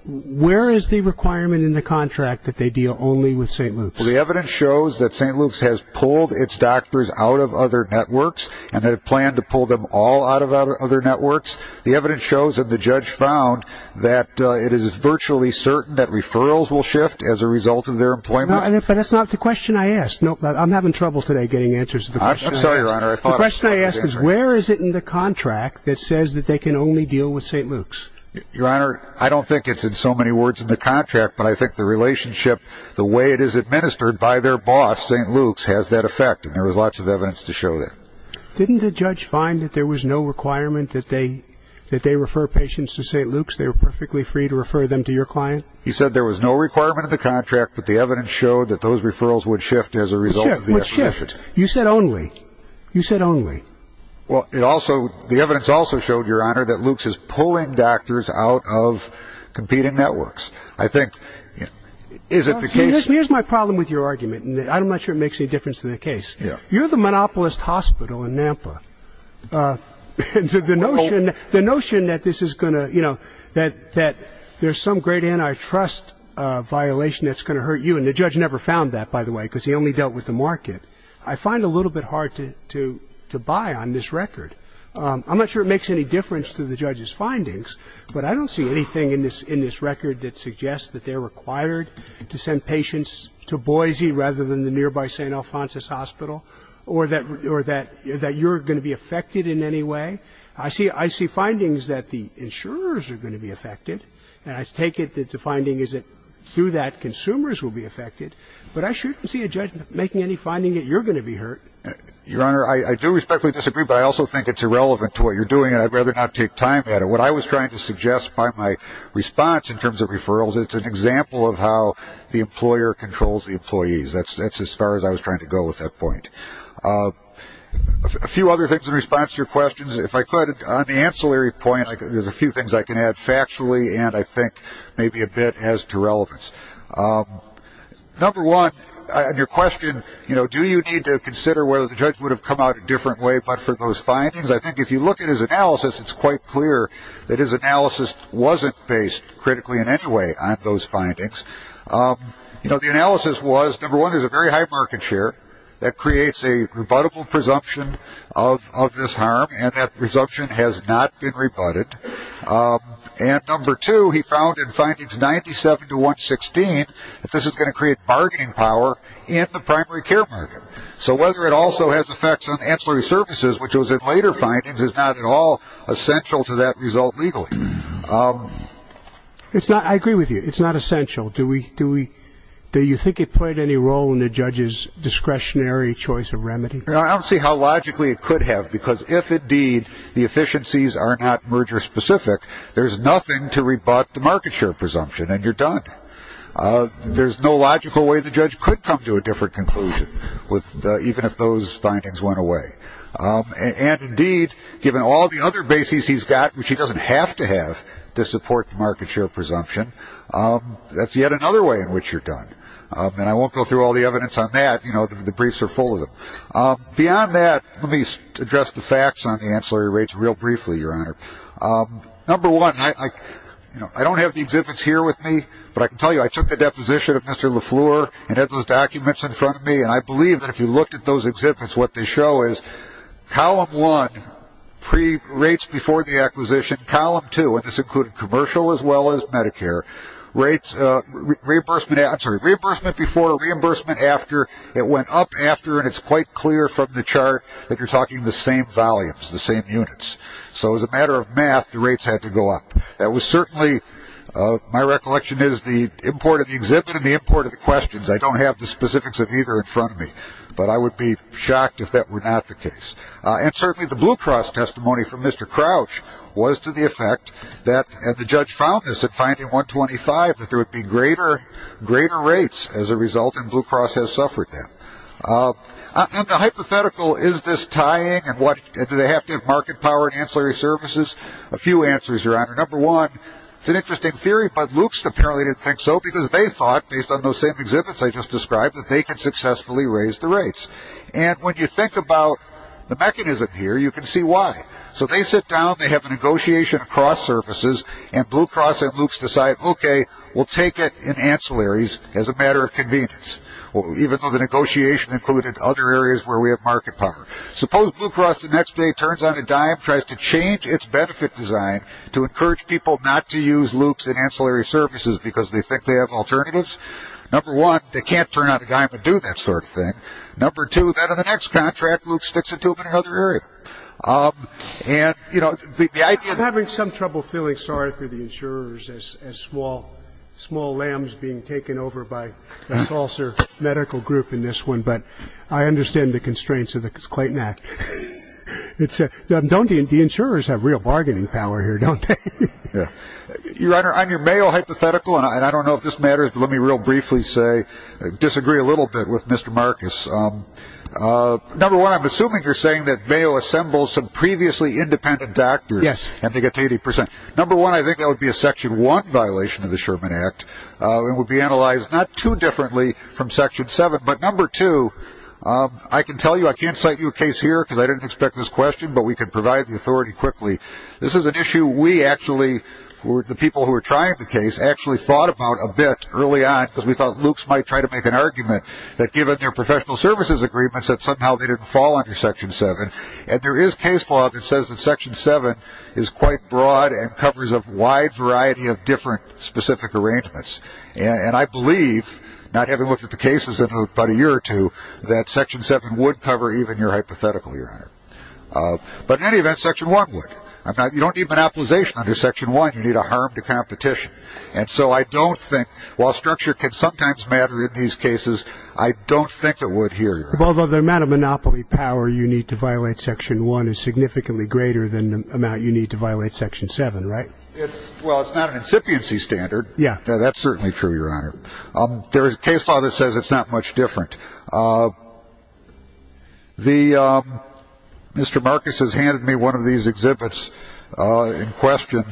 where is the requirement in the contract that they deal only with St. Luke's? The evidence shows that St. Luke's has pulled its doctors out of other networks and have planned to pull them all out of other networks. The evidence shows that the judge found that it is virtually certain that referrals will shift as a result of their employment. But that's not the question I asked. I'm having trouble today getting answers to the question. I'm sorry, Your Honor. The question I asked is where is it in the contract that says that they can only deal with St. Luke's? Your Honor, I don't think it's in so many words in the contract, but I think the relationship, the way it is administered by their boss, St. Luke's, has that effect, and there was lots of evidence to show that. Didn't the judge find that there was no requirement that they refer patients to St. Luke's? They were perfectly free to refer them to your client? He said there was no requirement in the contract, but the evidence showed that those referrals would shift as a result of the operation. You said only. You said only. Well, the evidence also showed, Your Honor, that Luke's is pulling doctors out of competing networks. I think, is it the case? Here's my problem with your argument, and I'm not sure it makes any difference to the case. You're the monopolist hospital in Nampa. The notion that this is going to, you know, that there's some great antitrust violation that's going to hurt you, and the judge never found that, by the way, because he only dealt with the market, I find a little bit hard to buy on this record. I'm not sure it makes any difference to the judge's findings, but I don't see anything in this record that suggests that they're required to send patients to Boise rather than the nearby St. Alphonsus Hospital or that you're going to be affected in any way. I see findings that the insurers are going to be affected, and I take it that the finding is that through that consumers will be affected, but I shouldn't see a judge making any finding that you're going to be hurt. Your Honor, I do respectfully disagree, but I also think it's irrelevant to what you're doing, and I'd rather not take time at it. What I was trying to suggest by my response in terms of referrals, it's an example of how the employer controls the employees. That's as far as I was trying to go with that point. A few other things in response to your questions. If I could, on the ancillary point, there's a few things I can add factually and I think maybe a bit as to relevance. Number one, your question, you know, do you need to consider whether the judge would have come out a different way but for those findings? I think if you look at his analysis, it's quite clear that his analysis wasn't based critically in any way on those findings. You know, the analysis was, number one, there's a very high market share that creates a rebuttable presumption of this harm, and that presumption has not been rebutted. And number two, he found in findings 97 to 116, that this is going to create bargaining power in the primary care provider. So whether it also has effects on ancillary services, which was in later findings, is not at all essential to that result legally. I agree with you. It's not essential. Do you think it played any role in the judge's discretionary choice of remedy? I don't see how logically it could have, because if indeed the efficiencies are not merger specific, there's nothing to rebut the market share presumption and you're done. There's no logical way the judge could come to a different conclusion, even if those findings went away. And indeed, given all the other bases he's got, which he doesn't have to have to support the market share presumption, that's yet another way in which you're done. And I won't go through all the evidence on that. You know, the briefs are full of them. Beyond that, let me address the facts on the ancillary rates real briefly, Your Honor. Number one, I don't have the exhibits here with me, but I can tell you I took the deposition of Mr. LaFleur and had those documents in front of me, and I believe that if you looked at those exhibits, what they show is column one, pre-rates before the acquisition, column two, and this included commercial as well as Medicare, reimbursement before, reimbursement after. It went up after, and it's quite clear from the chart that you're talking the same volumes, the same units. So as a matter of math, the rates had to go up. That was certainly my recollection is the import of the exhibit and the import of the questions. I don't have the specifics of either in front of me, but I would be shocked if that were not the case. And certainly the Blue Cross testimony from Mr. Crouch was to the effect that, and the judge found this at finding 125, that there would be greater rates as a result, and Blue Cross has suffered that. And the hypothetical, is this tying, and do they have to have market power in ancillary services? A few answers, Your Honor. Number one, it's an interesting theory, but Luke's apparently didn't think so because they thought, based on those same exhibits I just described, that they could successfully raise the rates. And when you think about the mechanism here, you can see why. So they sit down, they have a negotiation across services, and Blue Cross and Luke's decide, okay, we'll take it in ancillaries as a matter of convenience, even though the negotiation included other areas where we have market power. Suppose Blue Cross the next day turns on a dime, tries to change its benefit design to encourage people not to use Luke's in ancillary services because they think they have alternatives. Number one, they can't turn on a dime and do that sort of thing. Number two, then in the next contract, Luke sticks it to another area. I'm having some trouble feeling sorry for the insurers as small lambs being taken over by a closer medical group in this one, but I understand the constraints of the Clayton Act. The insurers have real bargaining power here, don't they? I'm your Mayo hypothetical, and I don't know if this matters, but let me real briefly disagree a little bit with Mr. Marcus. Number one, I'm assuming you're saying that Mayo assembles some previously independent doctors and they get 80 percent. Number one, I think that would be a Section 1 violation of the Sherman Act and would be analyzed not too differently from Section 7. But number two, I can tell you I can't cite you a case here because I didn't expect this question, but we can provide the authority quickly. This is an issue we actually, the people who were trying the case, actually thought about a bit early on because we thought Luke might try to make an argument that given their professional services agreements that somehow they didn't fall under Section 7. And there is case law that says that Section 7 is quite broad and covers a wide variety of different specific arrangements. And I believe, not having looked at the cases in about a year or two, that Section 7 would cover even your hypothetical here. But in any event, Section 1 would. You don't need monopolization under Section 1. You need a harm to competition. And so I don't think, while structure can sometimes matter in these cases, I don't think it would here. Although the amount of monopoly power you need to violate Section 1 is significantly greater than the amount you need to violate Section 7, right? Well, it's not an incipiency standard. Yeah, that's certainly true, Your Honor. There is case law that says it's not much different. Mr. Marcus has handed me one of these exhibits in question.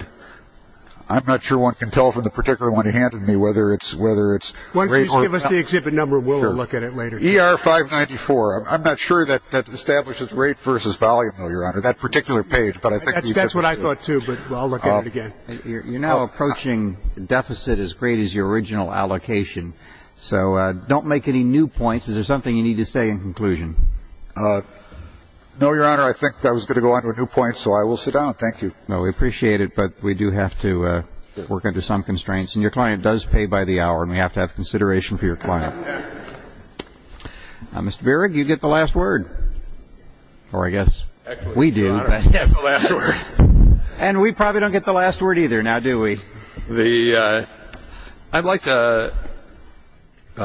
I'm not sure one can tell from the particular one he handed me whether it's rate or time. Why don't you just give us the exhibit number? We'll look at it later. ER-594. I'm not sure that establishes rate versus volume, Your Honor, that particular page. That's what I thought too, but I'll look at it again. You're now approaching deficit as great as your original allocation. So don't make any new points. Is there something you need to say in conclusion? No, Your Honor. I think I was going to go on to a new point, so I will sit down. Thank you. No, we appreciate it, but we do have to work under some constraints. And your client does pay by the hour, and we have to have consideration for your client. Now, Mr. Beard, you get the last word. Or I guess we do. And we probably don't get the last word either now, do we? I'd like to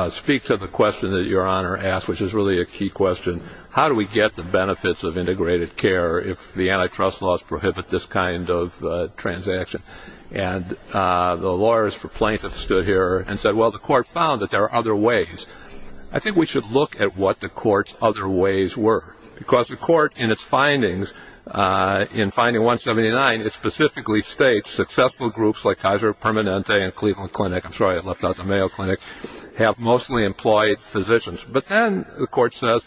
speak to the question that Your Honor asked, which is really a key question. How do we get the benefits of integrated care if the antitrust laws prohibit this kind of transaction? And the lawyers for Plankton stood here and said, well, the court found that there are other ways. I think we should look at what the court's other ways were. Because the court in its findings, in finding 179, it specifically states successful groups like Kaiser Permanente and Cleveland Clinic, I'm sorry I left out the Mayo Clinic, have mostly employed physicians. But then the court says,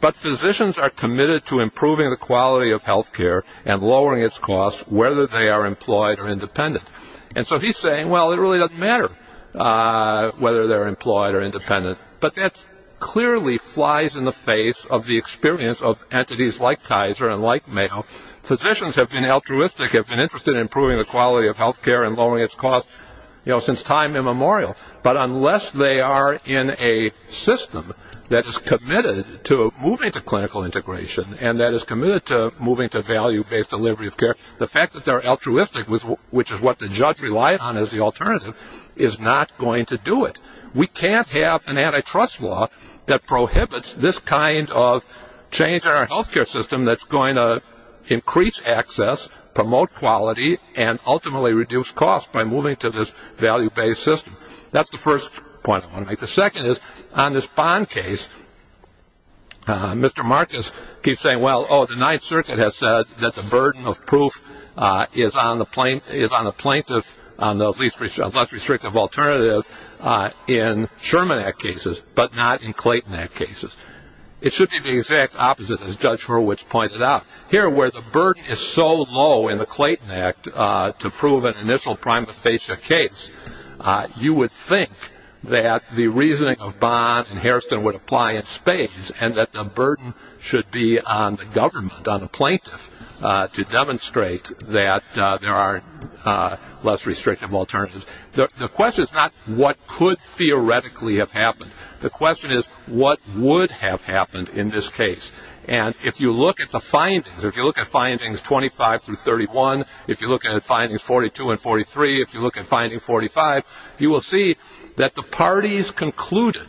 but physicians are committed to improving the quality of health care and lowering its cost whether they are employed or independent. And so he's saying, well, it really doesn't matter whether they're employed or independent. But that clearly flies in the face of the experience of entities like Kaiser and like Mayo. Physicians have been altruistic, have been interested in improving the quality of health care and lowering its cost since time immemorial. But unless they are in a system that is committed to moving to clinical integration and that is committed to moving to value-based delivery of care, the fact that they're altruistic, which is what the judge relied on as the alternative, is not going to do it. We can't have an antitrust law that prohibits this kind of change in our health care system that's going to increase access, promote quality, and ultimately reduce cost by moving to this value-based system. That's the first point I want to make. The second is, on this bond case, Mr. Marcus keeps saying, well, the Ninth Circuit has said that the burden of proof is on a plaintiff, on those less restrictive alternatives in Sherman Act cases, but not in Clayton Act cases. It should be the exact opposite, as Judge Hurwitz pointed out. Here, where the burden is so low in the Clayton Act to prove an initial prima facie case, you would think that the reasoning of bonds in Harrison would apply in Spain and that the burden should be on the government, on the plaintiff, to demonstrate that there are less restrictive alternatives. The question is not what could theoretically have happened. The question is what would have happened in this case. And if you look at the findings, or if you look at findings 25 through 31, if you look at findings 42 and 43, if you look at findings 45, you will see that the parties concluded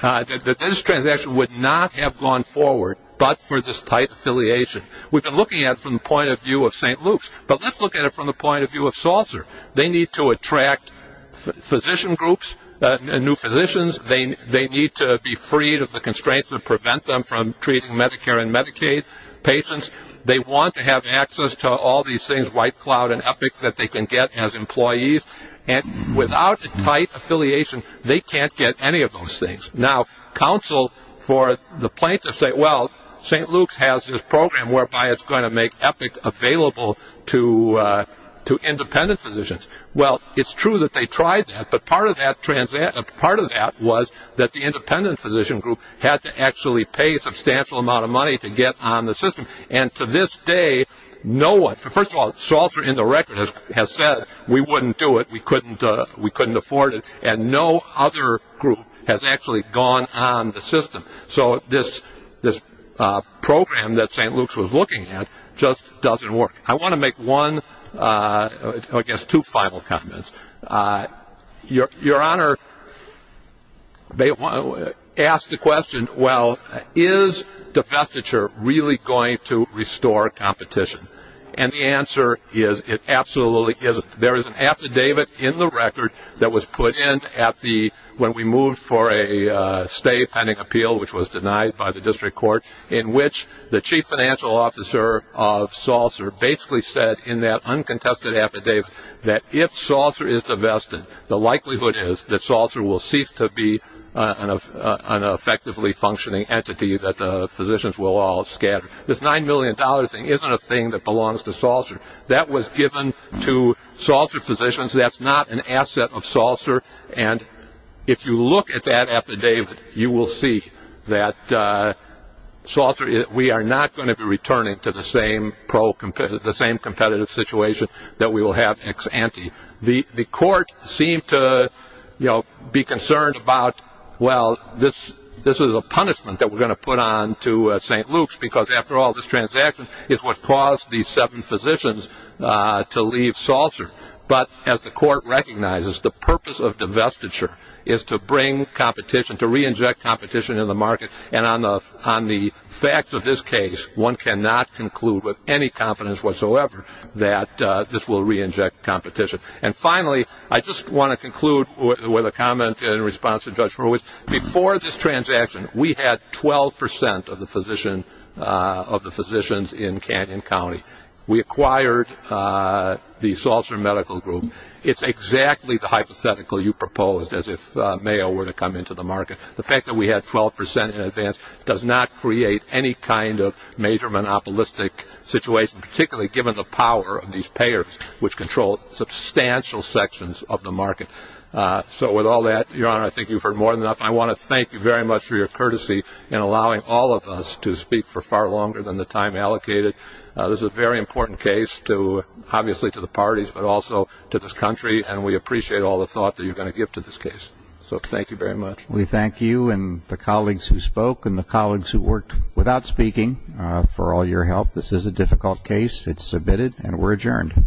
that this transaction would not have gone forward, but for this tight affiliation. We've been looking at it from the point of view of St. Luke's, but let's look at it from the point of view of Salzer. They need to attract physician groups and new physicians. They need to be freed of the constraints that prevent them from treating Medicare and Medicaid patients. They want to have access to all these things, White Cloud and Epic, that they can get as employees. And without a tight affiliation, they can't get any of those things. Now counsel for the plaintiffs say, well, St. Luke's has this program whereby it's going to make Epic available to independent physicians. Well, it's true that they tried that, but part of that was that the independent physician group had to actually pay a substantial amount of money to get on the system. And to this day, no one, first of all, Salzer in the record has said we wouldn't do it, we couldn't afford it, and no other group has actually gone on the system. So this program that St. Luke's was looking at just doesn't work. I want to make one, I guess two final comments. Your Honor, they asked the question, well, is divestiture really going to restore competition? And the answer is it absolutely isn't. There is an affidavit in the record that was put in when we moved for a stay pending appeal, which was denied by the district court, in which the chief financial officer of Salzer basically said in that uncontested affidavit that if Salzer is divested, the likelihood is that Salzer will cease to be an effectively functioning entity that the physicians will all scatter. This $9 million thing isn't a thing that belongs to Salzer. That was given to Salzer physicians. That's not an asset of Salzer. And if you look at that affidavit, you will see that we are not going to be returning to the same competitive situation that we will have ex ante. The court seemed to be concerned about, well, this is a punishment that we're going to put on to St. Luke's, because after all, this transaction is what caused these seven physicians to leave Salzer. But as the court recognizes, the purpose of divestiture is to bring competition, to re-inject competition in the market, and on the facts of this case, one cannot conclude with any confidence whatsoever that this will re-inject competition. And finally, I just want to conclude with a comment in response to Judge Ruiz. Before this transaction, we had 12% of the physicians in Canyon County. We acquired the Salzer Medical Group. It's exactly the hypothetical you proposed, as if Mayo were to come into the market. The fact that we had 12% in advance does not create any kind of major monopolistic situation, particularly given the power of these payers, which control substantial sections of the market. So with all that, Your Honor, I think you've heard more than enough. I want to thank you very much for your courtesy in allowing all of us to speak for far longer than the time allocated. This is a very important case, obviously to the parties, but also to this country, and we appreciate all the thought that you're going to give to this case. So thank you very much. We thank you and the colleagues who spoke and the colleagues who worked without speaking for all your help. This is a difficult case. It's submitted, and we're adjourned.